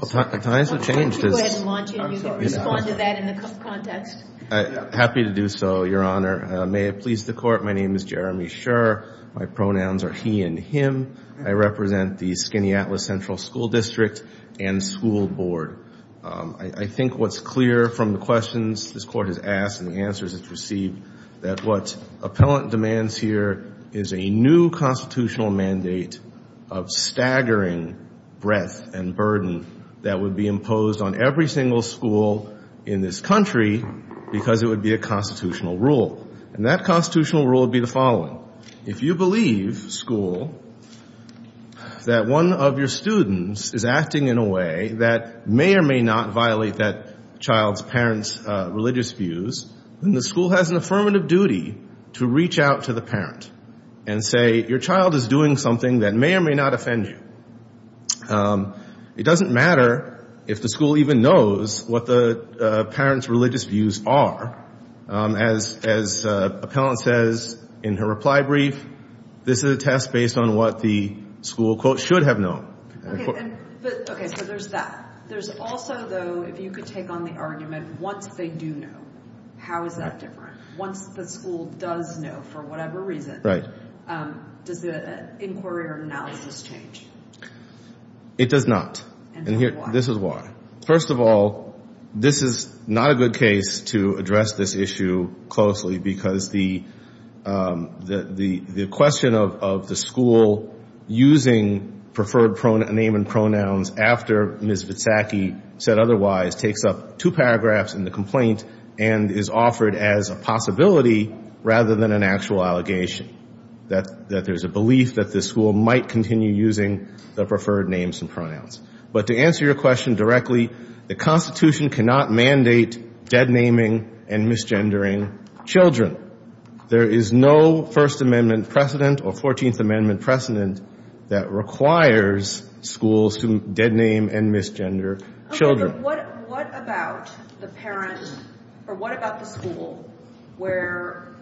Well, can I have a change to this? Go ahead and launch it. You can respond to that in the context. Happy to do so, Your Honor. May it please the Court, my name is Jeremy Scherr. My pronouns are he and him. I represent the Skaneateles Central School District and school board. I think what's clear from the questions this Court has asked and the answers it's received, that what appellant demands here is a new constitutional mandate of staggering breadth and burden that would be imposed on every single school in this country because it would be a constitutional rule. And that constitutional rule would be the following. If you believe, school, that one of your students is acting in a way that may or may not violate that child's parent's religious views, then the school has an affirmative duty to reach out to the parent and say your child is doing something that may or may not offend you. It doesn't matter if the school even knows what the parent's religious views are. As appellant says in her reply brief, this is a test based on what the school, quote, should have known. Okay, so there's that. There's also, though, if you could take on the argument, once they do know, how is that different? Once the school does know for whatever reason, does the inquiry or analysis change? It does not. And this is why. First of all, this is not a good case to address this issue closely because the question of the school using preferred name and pronouns after Ms. Witsaki said otherwise takes up two paragraphs in the complaint and is offered as a possibility rather than an actual allegation, that there's a belief that the school might continue using the preferred names and pronouns. But to answer your question directly, the Constitution cannot mandate deadnaming and misgendering children. There is no First Amendment precedent or 14th Amendment precedent that requires schools to deadname and misgender children. What about the parents, or what about the school where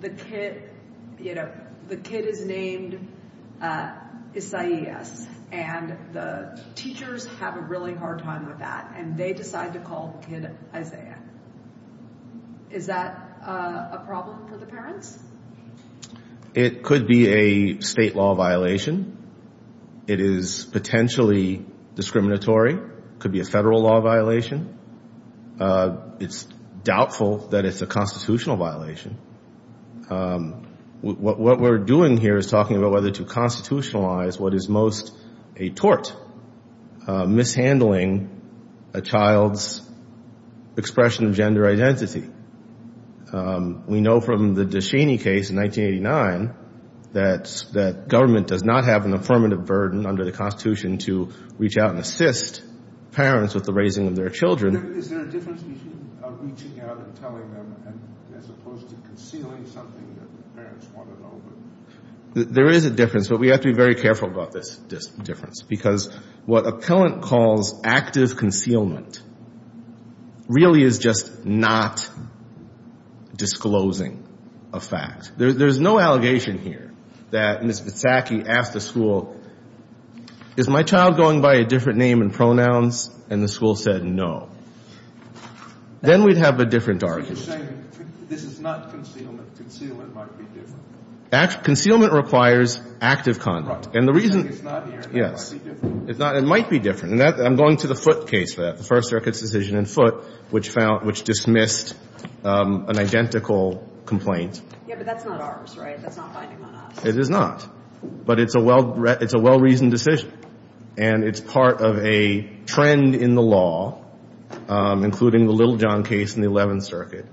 the kid is named Isaiah and the teachers have a really hard time with that and they decide to call the kid Isaiah? Is that a problem for the parents? It could be a state law violation. It is potentially discriminatory. It could be a federal law violation. It's doubtful that it's a constitutional violation. What we're doing here is talking about whether to constitutionalize what is most a tort, mishandling a child's expression of gender identity. We know from the Descheny case in 1989 that government does not have an affirmative burden under the Constitution to reach out and assist parents with the raising of their children. Is there a difference between reaching out and telling them as opposed to concealing something that the parents want to know? There is a difference, but we have to be very careful about this difference because what appellant calls active concealment really is just not disclosing a fact. There's no allegation here that Mr. Sacky asked the school, is my child going by a different name and pronouns? And the school said no. Then we'd have a different argument. Concealment requires active conduct. It might be different. I'm going to the Foote case for that, the First Circuit's decision in Foote, which dismissed an identical complaint. But that's not ours, right? It is not. But it's a well-reasoned decision. And it's part of a trend in the law, including the Little John case in the Eleventh Circuit.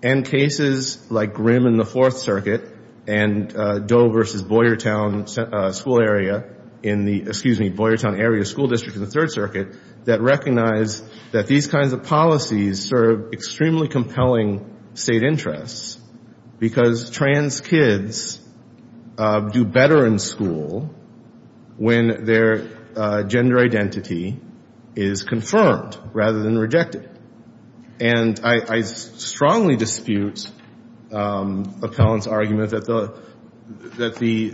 And cases like Grimm in the Fourth Circuit and Doe v. Boyertown School District in the Third Circuit that recognize that these kinds of policies serve extremely compelling state interests because trans kids do better in school when their gender identity is confirmed rather than rejected. And I strongly dispute Appellant's argument that the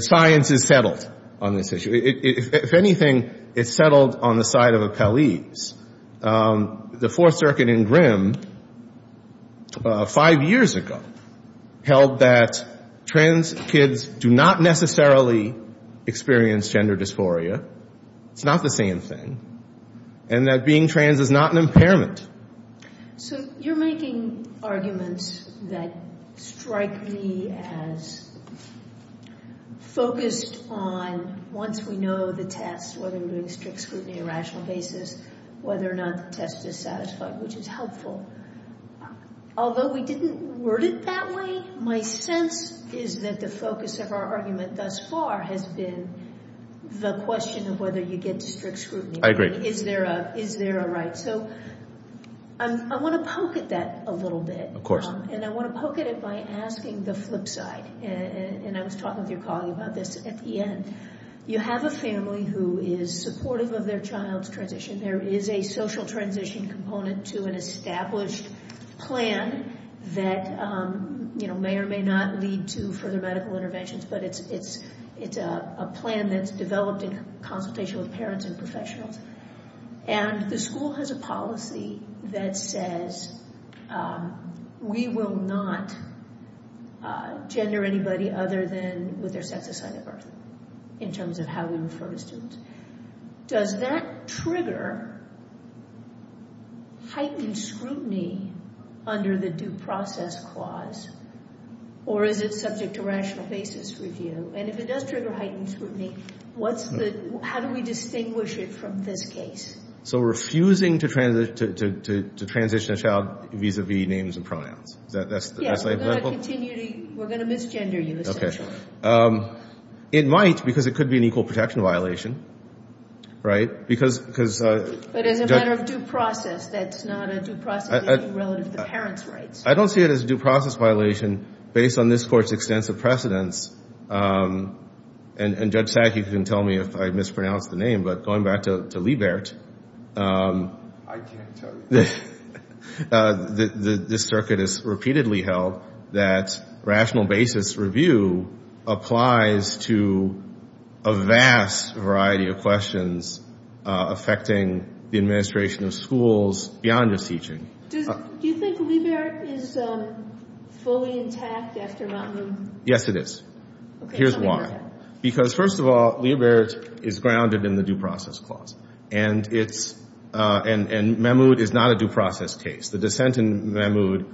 science is settled on this issue. If anything, it's settled on the side of Appellee's. The Fourth Circuit in Grimm five years ago held that trans kids do not necessarily experience gender dysphoria. It's not the same thing. And that being trans is not an impairment. So you're making arguments that strike me as focused on once we know the test, whether we're doing strict scrutiny on a rational basis, whether or not the test is satisfied, which is helpful. Although we didn't word it that way, my sense is that the focus of our argument thus far has been the question of whether you get strict scrutiny. I agree. Is there a right? So I want to poke at that a little bit. And I want to poke at it by asking the flip side. And I was talking to your colleague about this at the end. You have a family who is supportive of their child's transition. There is a social transition component to an established plan that may or may not lead to further medical interventions, but it's a plan that's developed in consultation with parents and professionals. And the school has a policy that says we will not gender anybody other than with their sex aside at birth, in terms of how we refer the students. Does that trigger heightened scrutiny under the due process clause? Or is it subject to rational basis review? And if it does trigger heightened scrutiny, how do we distinguish it from this case? So refusing to transition a child vis-à-vis names and pronouns. Yes. We're going to misgender you essentially. It might, because it could be an equal protection violation. Right? But in the matter of due process, that's not a due process violation relative to parents' rights. I don't see it as a due process violation based on this Court's extensive precedence. And Judge Sackey can tell me if I mispronounce the name, but going back to Liebert, I can't tell you. This circuit is repeatedly held that rational basis review applies to a vast variety of questions affecting the administration of schools beyond just teaching. Do you think Liebert is fully intact, yes or no? Yes, it is. Here's why. Because first of all, Liebert is grounded in the due process clause. And Mahmoud is not a due process case. The dissent in Mahmoud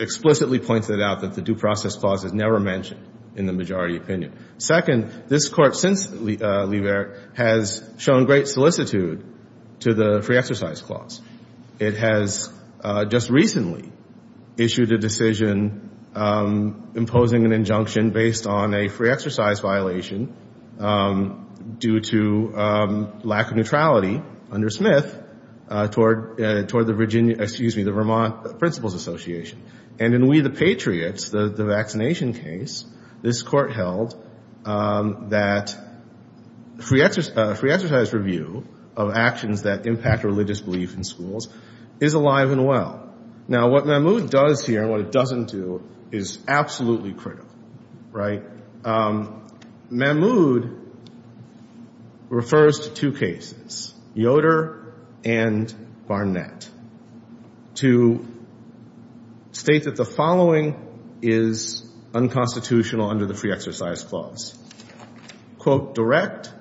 explicitly pointed out that the due process clause is never mentioned in the majority opinion. Second, this Court since Liebert has shown great solicitude to the free exercise clause. It has just recently issued a decision imposing an injunction based on a free exercise violation due to lack of neutrality under Smith toward the Vermont Principals Association. And in We the Patriots, the vaccination case, this Court held that free exercise review of actions that impact religious beliefs in schools is alive and well. Now what Mahmoud does here and what it doesn't do is absolutely critical. Right? Mahmoud refers to two cases, Yoder and Barnett, to state that the following is unconstitutional under the free exercise clause. Quote, direct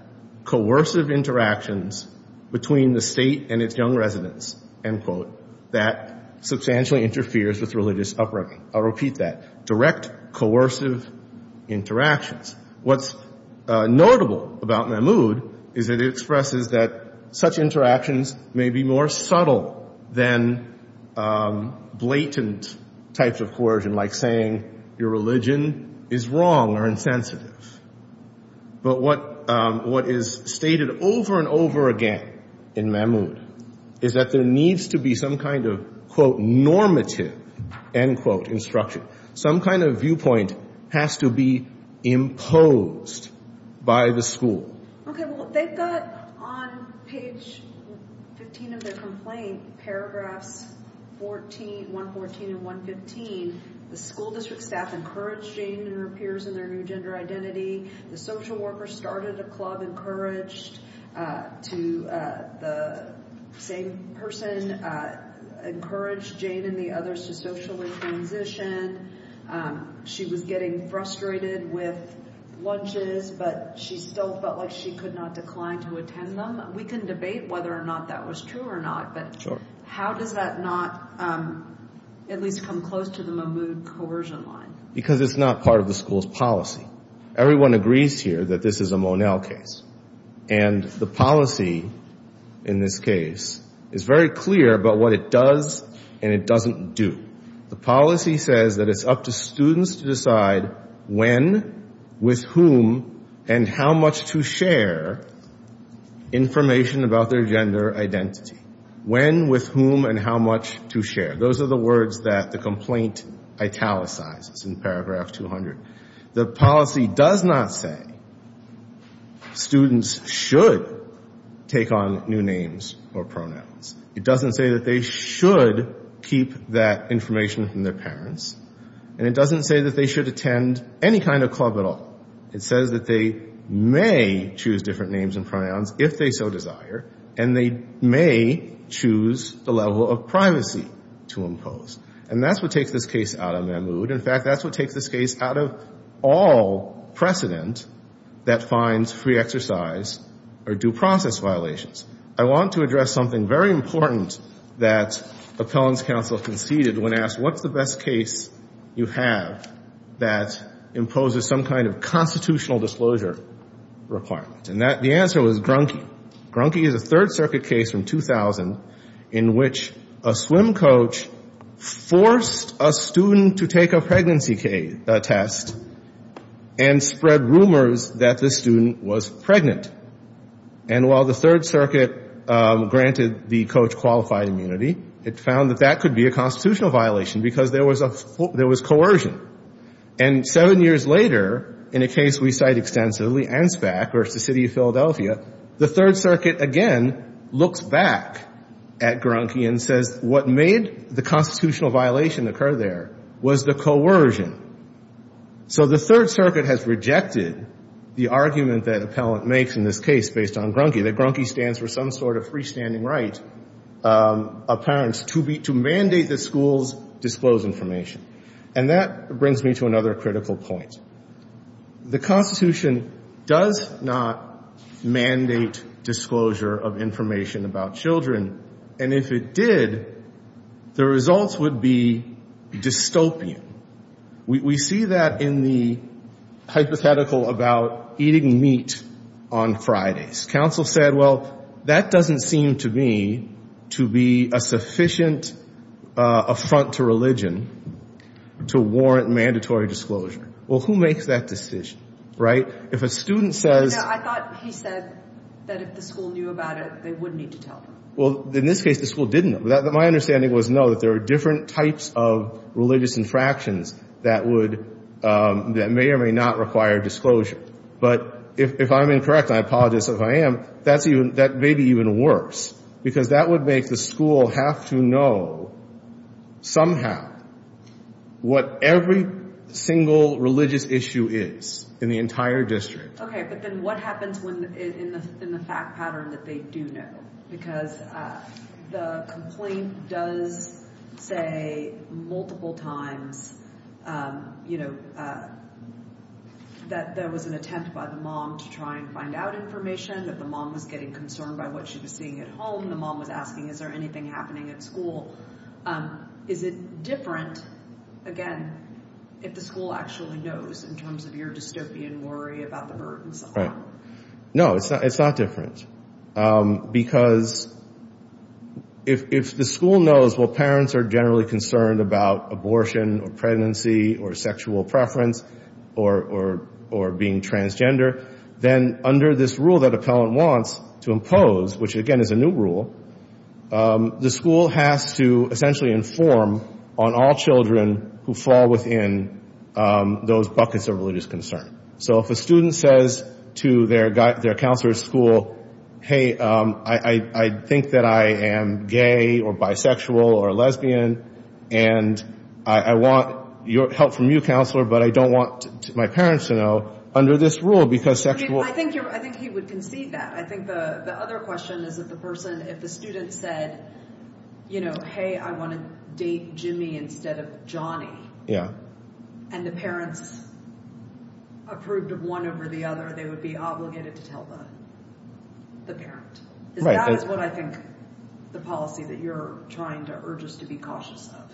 coercive interactions between the state and its young residents, end quote, that substantially interferes with religious upbringing. I'll repeat that. Direct coercive interactions. What's notable about Mahmoud is it expresses that such interactions may be more subtle than blatant types of coercion like saying your religion is wrong or insensitive. But what is stated over and over again in Mahmoud is that there needs to be some kind of, quote, normative, end quote, instruction. Some kind of viewpoint has to be imposed by the school. Okay, well they've got on page 15 of their complaint, paragraph 114 and 115, the school district staff encouraged Jane and her peers in their new gender identity. The social worker started a club, encouraged the same person, encouraged Jane and the others to socially transition. She was getting frustrated with lunches, but she still felt like she could not decline to attend them. We can debate whether or not that was true or not, but how did that not at least come close to the Mahmoud coercion line? Because it's not part of the school's policy. Everyone agrees here that this is a Monell case. And the policy in this case is very clear about what it does and it doesn't do. The policy says that it's up to students to decide when, with whom, and how much to share information about their gender identity. When, with whom, and how much to share. Those are the words that the complaint italicizes in paragraph 200. The policy does not say students should take on new names or pronouns. It doesn't say that they should keep that information from their parents. And it doesn't say that they should attend any kind of club at all. It says that they may choose different names and pronouns if they so desire, and they may choose the level of privacy to impose. And that's what takes this case out of Mahmoud. In fact, that's what takes this case out of all precedent that finds free exercise or due process violations. I want to address something very important that appellant counsel conceded when asked, what's the best case you have that imposes some kind of constitutional disclosure requirement? And the answer was Grunke. Grunke is a Third Circuit case from 2000 in which a swim coach forced a student to take a pregnancy test and spread rumors that this student was pregnant. And while the Third Circuit granted the coach qualified immunity, it found that that could be a constitutional violation because there was coercion. And seven years later, in a case we cite extensively, Ansbach versus the city of Philadelphia, the Third Circuit again looks back at Grunke and says, what made the constitutional violation occur there was the coercion. So the Third Circuit has rejected the argument that appellant makes in this case based on Grunke, that Grunke stands for some sort of freestanding right of parents to mandate that schools disclose information. And that brings me to another critical point. The Constitution does not mandate disclosure of information about children. And if it did, the results would be dystopian. We see that in the hypothetical about eating meat on Fridays. Counsel said, well, that doesn't seem to me to be a sufficient affront to religion to warrant mandatory disclosure. Well, who makes that decision, right? I thought he said that if the school knew about it, they wouldn't need to tell them. Well, in this case, the school didn't. My understanding was, no, that there are different types of religious infractions that may or may not require disclosure. But if I'm incorrect, and I apologize if I am, that may be even worse, because that would make the school have to know somehow what every single religious issue is in the entire district. Okay, but then what happens in the fact pattern that they do know? Because the complaint does say multiple times, you know, that there was an attempt by the mom to try and find out information. If the mom was getting concerned by what she was seeing at home, the mom was asking, is there anything happening at school? Is it different, again, if the school actually knows in terms of your dystopian worry about the birth and so on? No, it's not different. Because if the school knows, well, parents are generally concerned about abortion or pregnancy or sexual preference or being transgender, then under this rule that a parent wants to impose, which, again, is a new rule, the school has to essentially inform on all children who fall within those buckets of religious concern. So if a student says to their counselor at school, hey, I think that I am gay or bisexual or lesbian, and I want help from you, counselor, but I don't want my parents to know, under this rule, because sexual... I think you would concede that. I think the other question is that the person, if the student said, you know, hey, I want to date Jimmy instead of Johnny, and the parents approved of one over the other, they would be obligated to tell the parent. And that is what I think the policy that you're trying to urge us to be cautious of.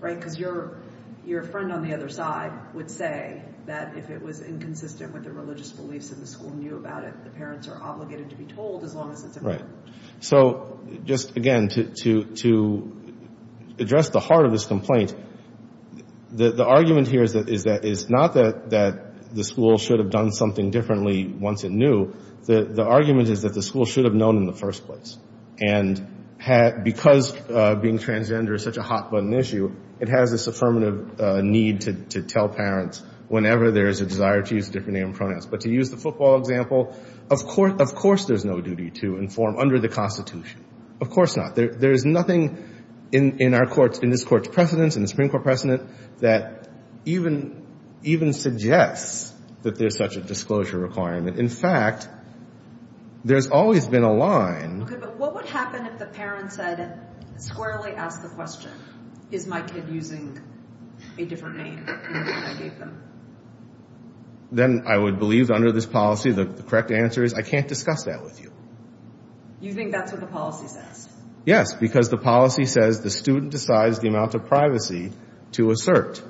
Right? Because your friend on the other side would say that if it was inconsistent with the religious beliefs of the school knew about it, the parents are obligated to be told as long as... Right. So just, again, to address the heart of this complaint, the argument here is that it's not that the school should have done something differently once it knew. The argument is that the school should have known in the first place. And because being transgender is such a hot-button issue, it has this affirmative need to tell parents whenever there is a desire to use a different name or pronouns. But to use the football example, of course there's no duty to inform under the Constitution. Of course not. There is nothing in this court's precedence, in the Supreme Court precedent, that even suggests that there's such a disclosure requirement. In fact, there's always been a line... What would happen if the parent said, squarely ask the question, is my kid using a different name? Then I would believe under this policy the correct answer is I can't discuss that with you. You think that's what the policy says? Yes, because the policy says the student decides the amount of privacy to assert.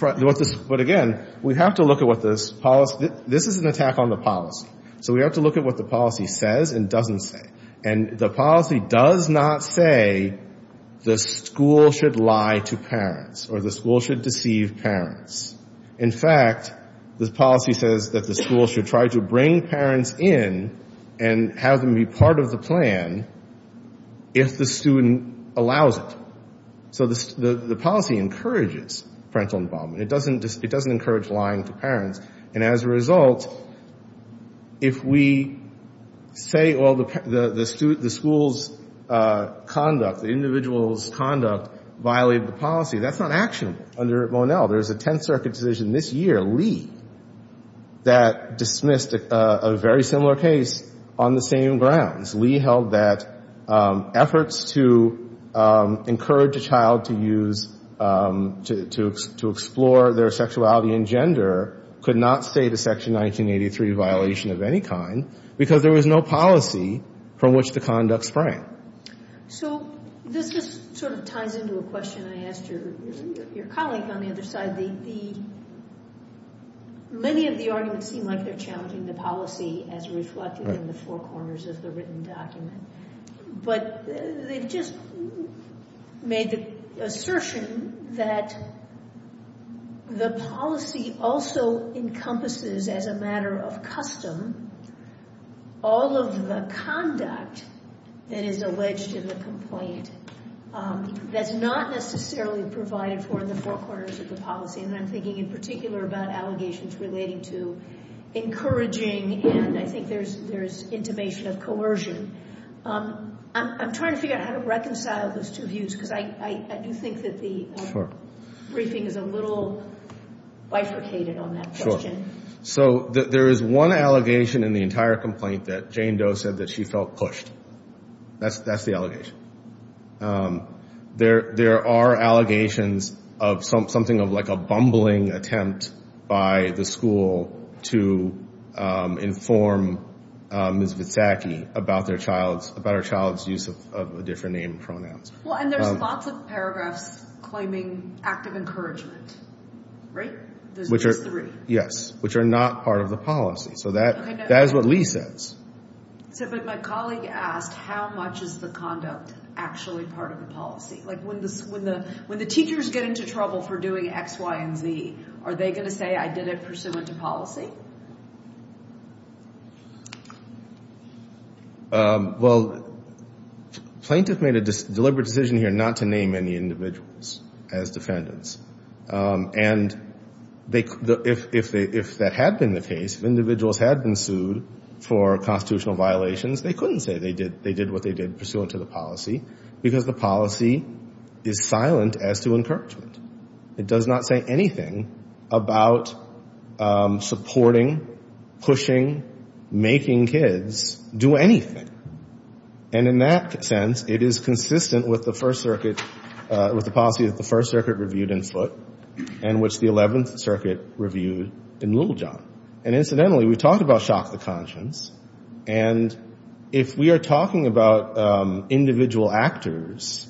But again, we have to look at what this policy... This is an attack on the policy. So we have to look at what the policy says and doesn't say. And the policy does not say the school should lie to parents or the school should deceive parents. In fact, the policy says that the school should try to bring parents in and have them be part of the plan if the student allows it. So the policy encourages parental involvement. It doesn't encourage lying to parents. And as a result, if we say, well, the school's conduct, the individual's conduct, violated the policy, that's not an action under Mornell. There's a Tenth Circuit decision this year, Lee, that dismissed a very similar case on the same grounds. Lee held that efforts to encourage a child to explore their sexuality and gender could not state a Section 1983 violation of any kind because there was no policy from which the conduct sprang. So this just sort of ties into a question I asked your colleague on the other side. Many of the arguments seem like they're challenging the policy as reflected in the four corners of the written document. But they've just made the assertion that the policy also encompasses, as a matter of custom, all of the conduct that is alleged in the complaint that's not necessarily provided for in the four corners of the policy. And I'm thinking in particular about allegations relating to encouraging, and I think there's intimation of coercion. I'm trying to figure out how to reconcile those two views because I do think that the briefing is a little bifurcated on that question. So there is one allegation in the entire complaint that Jane Doe said that she felt pushed. That's the allegation. There are allegations of something like a bumbling attempt by the school to inform Ms. Mitzaki about her child's use of a different name pronoun. Well, and there's lots of paragraphs claiming active encouragement, right? Yes, which are not part of the policy. So that is what Lee says. But my colleague asked, how much is the conduct actually part of the policy? Like when the teachers get into trouble for doing X, Y, and Z, are they going to say, I did it pursuant to policy? Well, plaintiffs made a deliberate decision here not to name any individuals as defendants. And if that had been the case, if individuals had been sued for constitutional violations, they couldn't say they did what they did pursuant to the policy because the policy is silent as to encouragement. It does not say anything about supporting, pushing, making kids do anything. And in that sense, it is consistent with the First Circuit, with the policy that the First Circuit reviewed in foot and which the 11th Circuit reviewed in Littlejohn. And incidentally, we talked about shock to conscience. And if we are talking about individual actors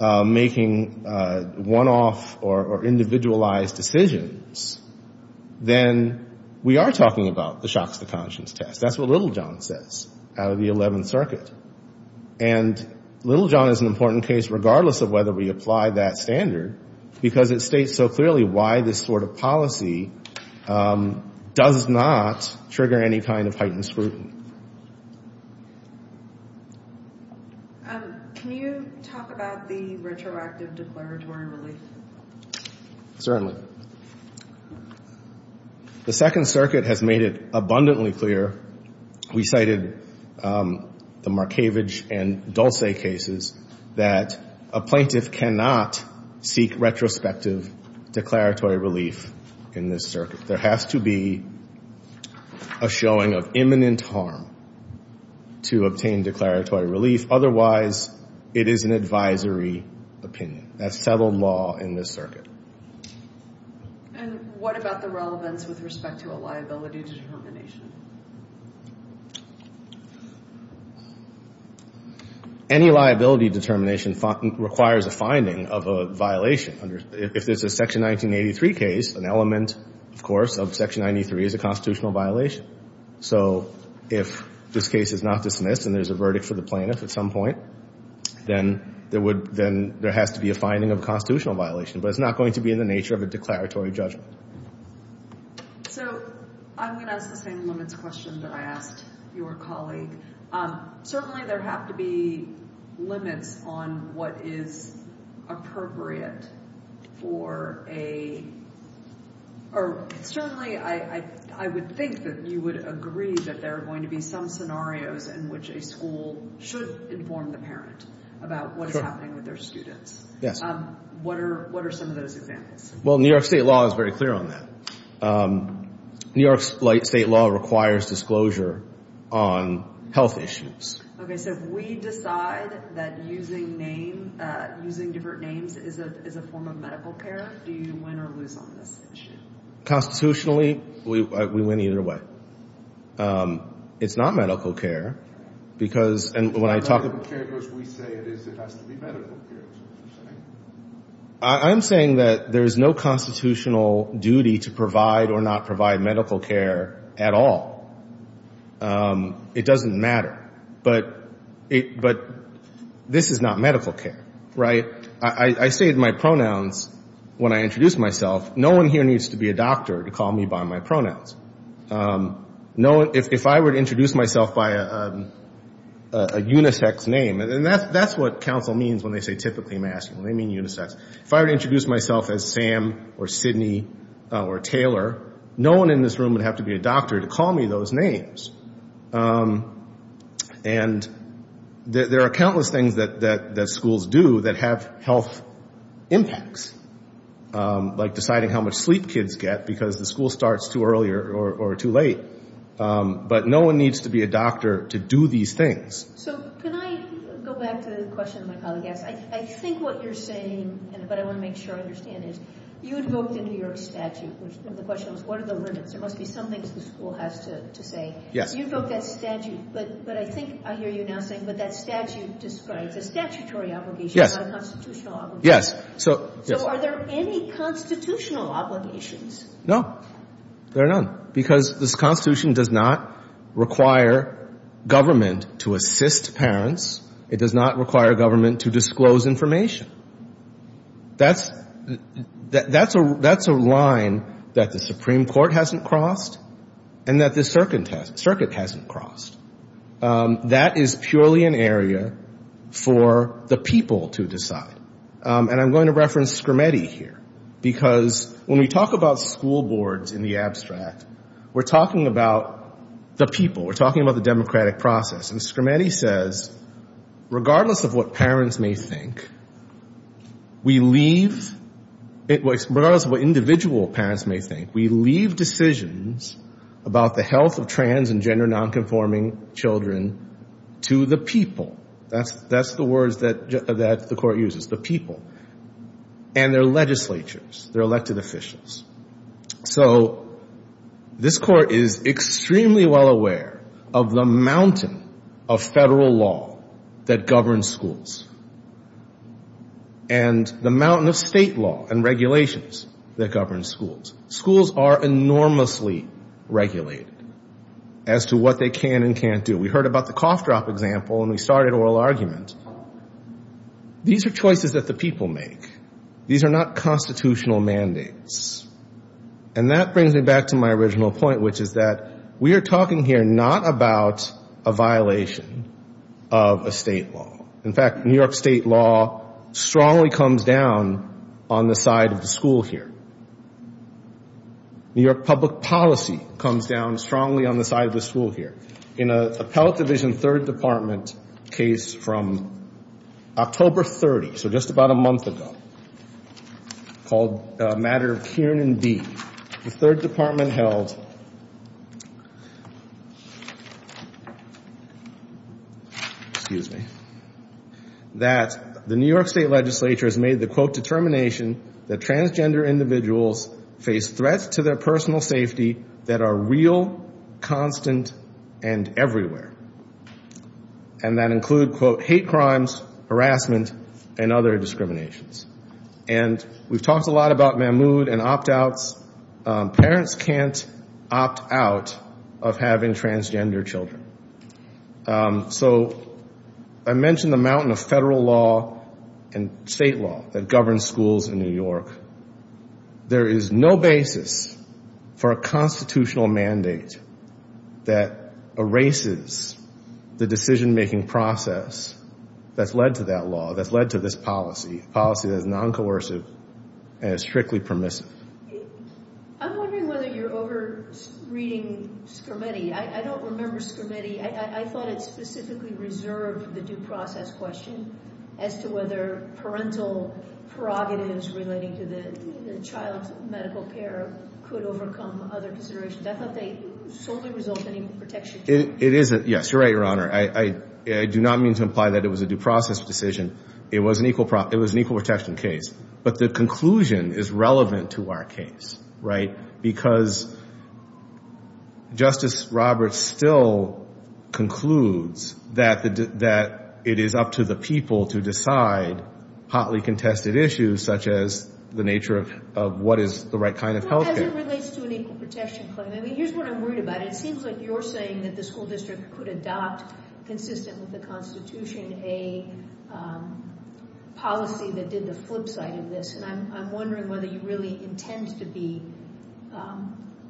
making one-off or individualized decisions, then we are talking about the shock to conscience test. That's what Littlejohn says out of the 11th Circuit. And Littlejohn is an important case regardless of whether we apply that standard because it states so clearly why this sort of policy does not trigger any kind of heightened scrutiny. Can you talk about the retroactive disclosure? Certainly. The Second Circuit has made it abundantly clear. We cited the Markievicz and Dulce cases that a plaintiff cannot seek retrospective declaratory relief in this circuit. There has to be a showing of imminent harm to obtain declaratory relief. Otherwise, it is an advisory opinion. That's federal law in this circuit. And what about the relevance with respect to a liability determination? Any liability determination requires a finding of a violation. If this is a Section 1983 case, an element, of course, of Section 1983 is a constitutional violation. So if this case is not dismissed and there is a verdict for the plaintiff at some point, then there has to be a finding of a constitutional violation. But it's not going to be in the nature of a declaratory judgment. So I'm going to ask the same limits question that I asked your colleague. Certainly, there have to be limits on what is appropriate for a... Certainly, I would think that you would agree that there are going to be some scenarios in which a school should inform the parents about what is happening with their students. What are some of those examples? Well, New York State law is very clear on that. New York State law requires disclosure on health issues. Okay, so if we decide that using names, using different names, is a form of medical care, do you win or lose on those issues? Constitutionally, we win either way. It's not medical care because... And when I talk... Medical care, of course, we say it is. There has to be medical care. I'm saying that there is no constitutional duty to provide or not provide medical care at all. It doesn't matter. But this is not medical care, right? I say my pronouns when I introduce myself. No one here needs to be a doctor to call me by my pronouns. If I were to introduce myself by a unisex name, and that's what counsel means when they say typically masculine. They mean unisex. If I were to introduce myself as Sam or Sidney or Taylor, no one in this room would have to be a doctor to call me those names. And there are countless things that schools do that have health impacts, like deciding how much sleep kids get because the school starts too early or too late. But no one needs to be a doctor to do these things. So, can I go back to the question my colleague asked? I think what you're saying, but I want to make sure I understand this, you invoked the New York statute. The question was, what are the limits? There must be something that the school has to say. You invoked that statute, but I think I hear you now saying that that statute described the statutory obligation, not the constitutional obligation. Yes. So, are there any constitutional obligations? No. There are none. Because this constitution does not require government to assist parents. It does not require government to disclose information. That's a line that the Supreme Court hasn't crossed and that the circuit hasn't crossed. That is purely an area for the people to decide. And I'm going to reference Scrimeti here. Because when we talk about school boards in the abstract, we're talking about the people. We're talking about the democratic process. And Scrimeti says, regardless of what parents may think, regardless of what individual parents may think, we leave decisions about the health of trans and gender nonconforming children to the people. That's the word that the court uses, the people. And their legislatures, their elected officials. So, this court is extremely well aware of the mountain of federal law that governs schools. And the mountain of state law and regulations that govern schools. Schools are enormously regulated as to what they can and can't do. We heard about the cough drop example and we started oral arguments. These are choices that the people make. These are not constitutional mandates. And that brings me back to my original point, which is that we are talking here not about a violation of a state law. In fact, New York state law strongly comes down on the side of the school here. New York public policy comes down strongly on the side of the school here. In a Pellissippi Division 3rd Department case from October 30th, so just about a month ago, called the matter of Kiernan B, the 3rd Department held that the New York state legislature has made the quote determination that transgender individuals face threats to their personal safety that are real, constant, and everywhere. And that includes, quote, hate crimes, harassment, and other discriminations. And we've talked a lot about Mahmoud and opt outs. Parents can't opt out of having transgender children. So I mentioned the mountain of federal law and state law that governs schools in New York. There is no basis for a constitutional mandate that erases the decision-making process that's led to that law, that's led to this policy, a policy that is non-coercive and is strictly permissive. I'm wondering whether you're over-reading Scarametti. I don't remember Scarametti. I thought it specifically reserved the due process question as to whether parental prerogatives relating to the child's medical care could overcome other considerations. I thought they solely resulted in protection. It is, yes, you're right, Your Honor. I do not mean to imply that it was a due process decision. It was an equal protection case. But the conclusion is relevant to our case, right? Because Justice Roberts still concludes that it is up to the people to decide hotly contested issues such as the nature of what is the right kind of health care. Well, that relates to an equal protection claim. I mean, here's what I'm worried about. It seems like you're saying that the school district could adopt, consistent with the Constitution, a policy that did the flip side of this. And I'm wondering whether you really intend to be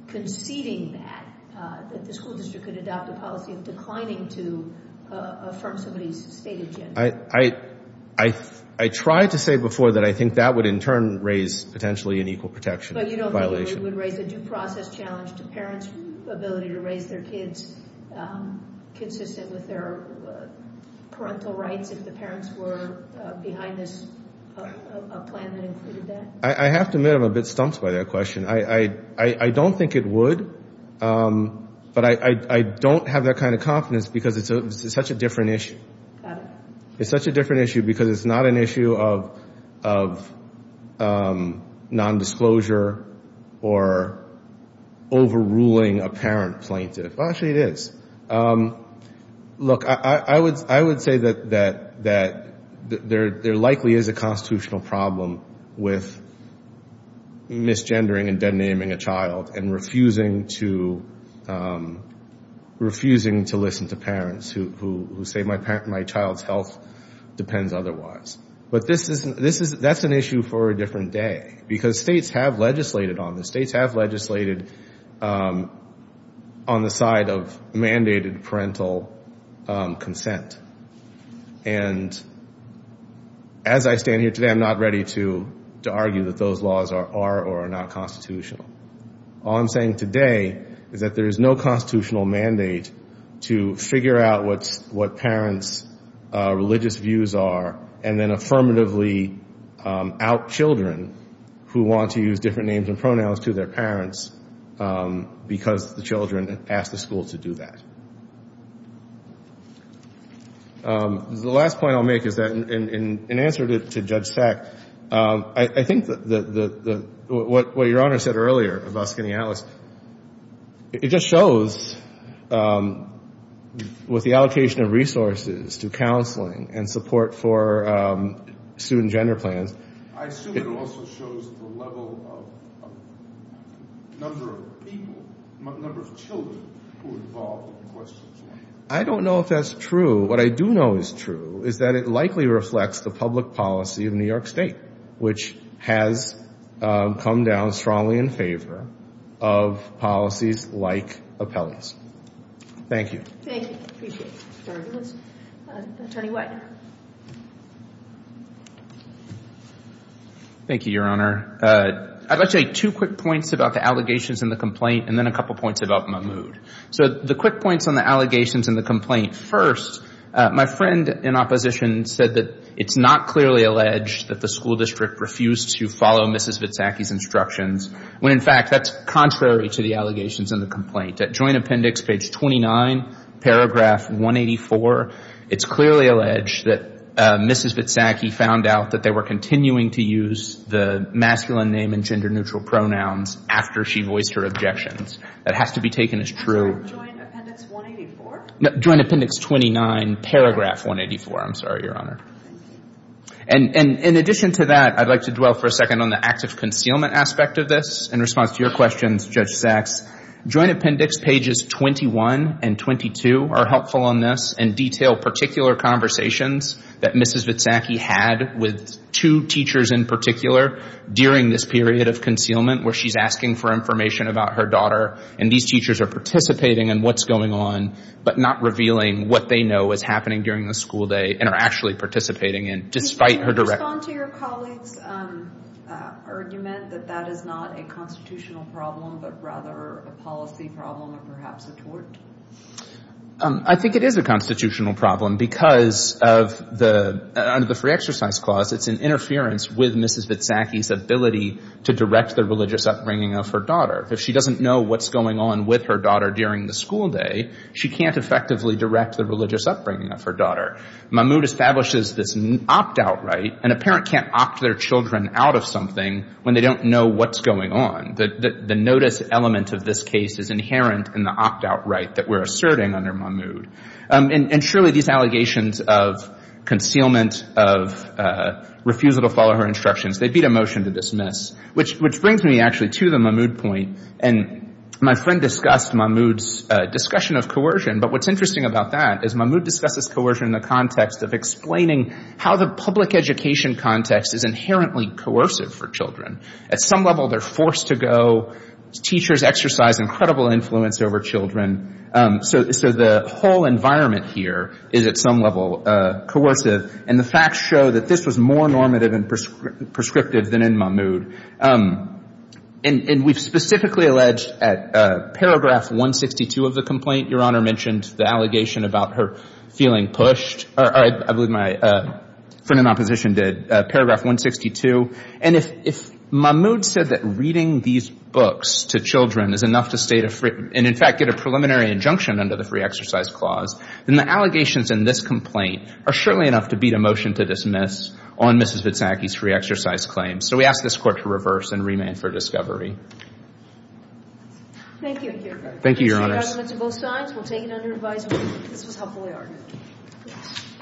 conceding that, that the school district could adopt a policy of declining to affirm somebody's state agenda. I tried to say before that I think that would in turn raise potentially an equal protection violation. But you don't think it would raise a due process challenge to parents' ability to raise their kids consistent with their parental rights if the parents were behind a plan that included that? I have to admit I'm a bit stumped by that question. I don't think it would. But I don't have that kind of confidence because it's such a different issue. It's such a different issue because it's not an issue of nondisclosure or overruling a parent plaintiff. Well, actually it is. Look, I would say that there likely is a constitutional problem with misgendering and denaming a child and refusing to listen to parents who say, my child's health depends otherwise. But that's an issue for a different day because states have legislated on this. States have legislated on the side of mandated parental consent. And as I stand here today, I'm not ready to argue that those laws are or are not constitutional. All I'm saying today is that there is no constitutional mandate to figure out what parents' religious views are and then affirmatively out children who want to use different names and pronouns to their parents because the children ask the schools to do that. The last point I'll make is that in answer to Judge Seck, I think what Your Honor said earlier about skinny allies, it just shows with the allocation of resources to counseling and support for student gender plans. I don't know if that's true. What I do know is true is that it likely reflects the public policy of New York State, which has come down strongly in favor of policies like appellate. Thank you. Thank you. Appreciate it. Thank you, Your Honor. I'd like to make two quick points about the allegations in the complaint and then a couple points about Mahmoud. So the quick points on the allegations in the complaint. First, my friend in opposition said that it's not clearly alleged that the school district refused to follow Mrs. Vitsacky's instructions, when in fact that's contrary to the allegations in the complaint. That joint appendix, page 29, paragraph 184, it's clearly alleged that Mrs. Vitsacky found out that they were continuing to use the masculine name and gender neutral pronouns after she voiced her objections. That has to be taken as true. Joint appendix 184? Joint appendix 29, paragraph 184, I'm sorry, Your Honor. In addition to that, I'd like to dwell for a second on the active concealment aspect of this. In response to your questions, Judge Sachs, joint appendix pages 21 and 22 are helpful on this and detail particular conversations that Mrs. Vitsacky had with two teachers in particular during this period of concealment where she's asking for information about her daughter and these teachers are participating in what's going on but not revealing what they know is happening during the school day and are actually participating in despite her direct... Can you respond to your colleague's argument that that is not a constitutional problem but rather a policy problem or perhaps a tort? I think it is a constitutional problem because of the, under the Free Exercise Clause, it's an interference with Mrs. Vitsacky's ability to direct the religious upbringing of her daughter. If she doesn't know what's going on with her daughter during the school day, she can't effectively direct the religious upbringing of her daughter. Mahmoud establishes this opt-out right and a parent can't opt their children out of something when they don't know what's going on. The notice element of this case is inherent in the opt-out right that we're asserting under Mahmoud. And surely these allegations of concealment, of refusal to follow her instructions, they beat a motion to dismiss which brings me actually to the Mahmoud point and my friend discussed Mahmoud's discussion of coercion but what's interesting about that is Mahmoud discusses coercion in the context of explaining how the public education context is inherently coercive for children. At some level they're forced to go, teachers exercise incredible influence over children. So the whole environment here is at some level coercive and the facts show that this was more normative and prescriptive than in Mahmoud. And we've specifically alleged at paragraph 162 of the complaint, Your Honor mentioned the allegation about her feeling pushed. I believe my friend in opposition did, paragraph 162. And if Mahmoud said that reading these books to children is enough to state a free, and in fact get a preliminary injunction under the free exercise clause, then the allegations in this complaint are surely enough to beat a motion to dismiss on Mrs. Witsacki's free exercise claim. So we ask this court to reverse and remand for discovery. Thank you, Your Honor. Thank you, Your Honor.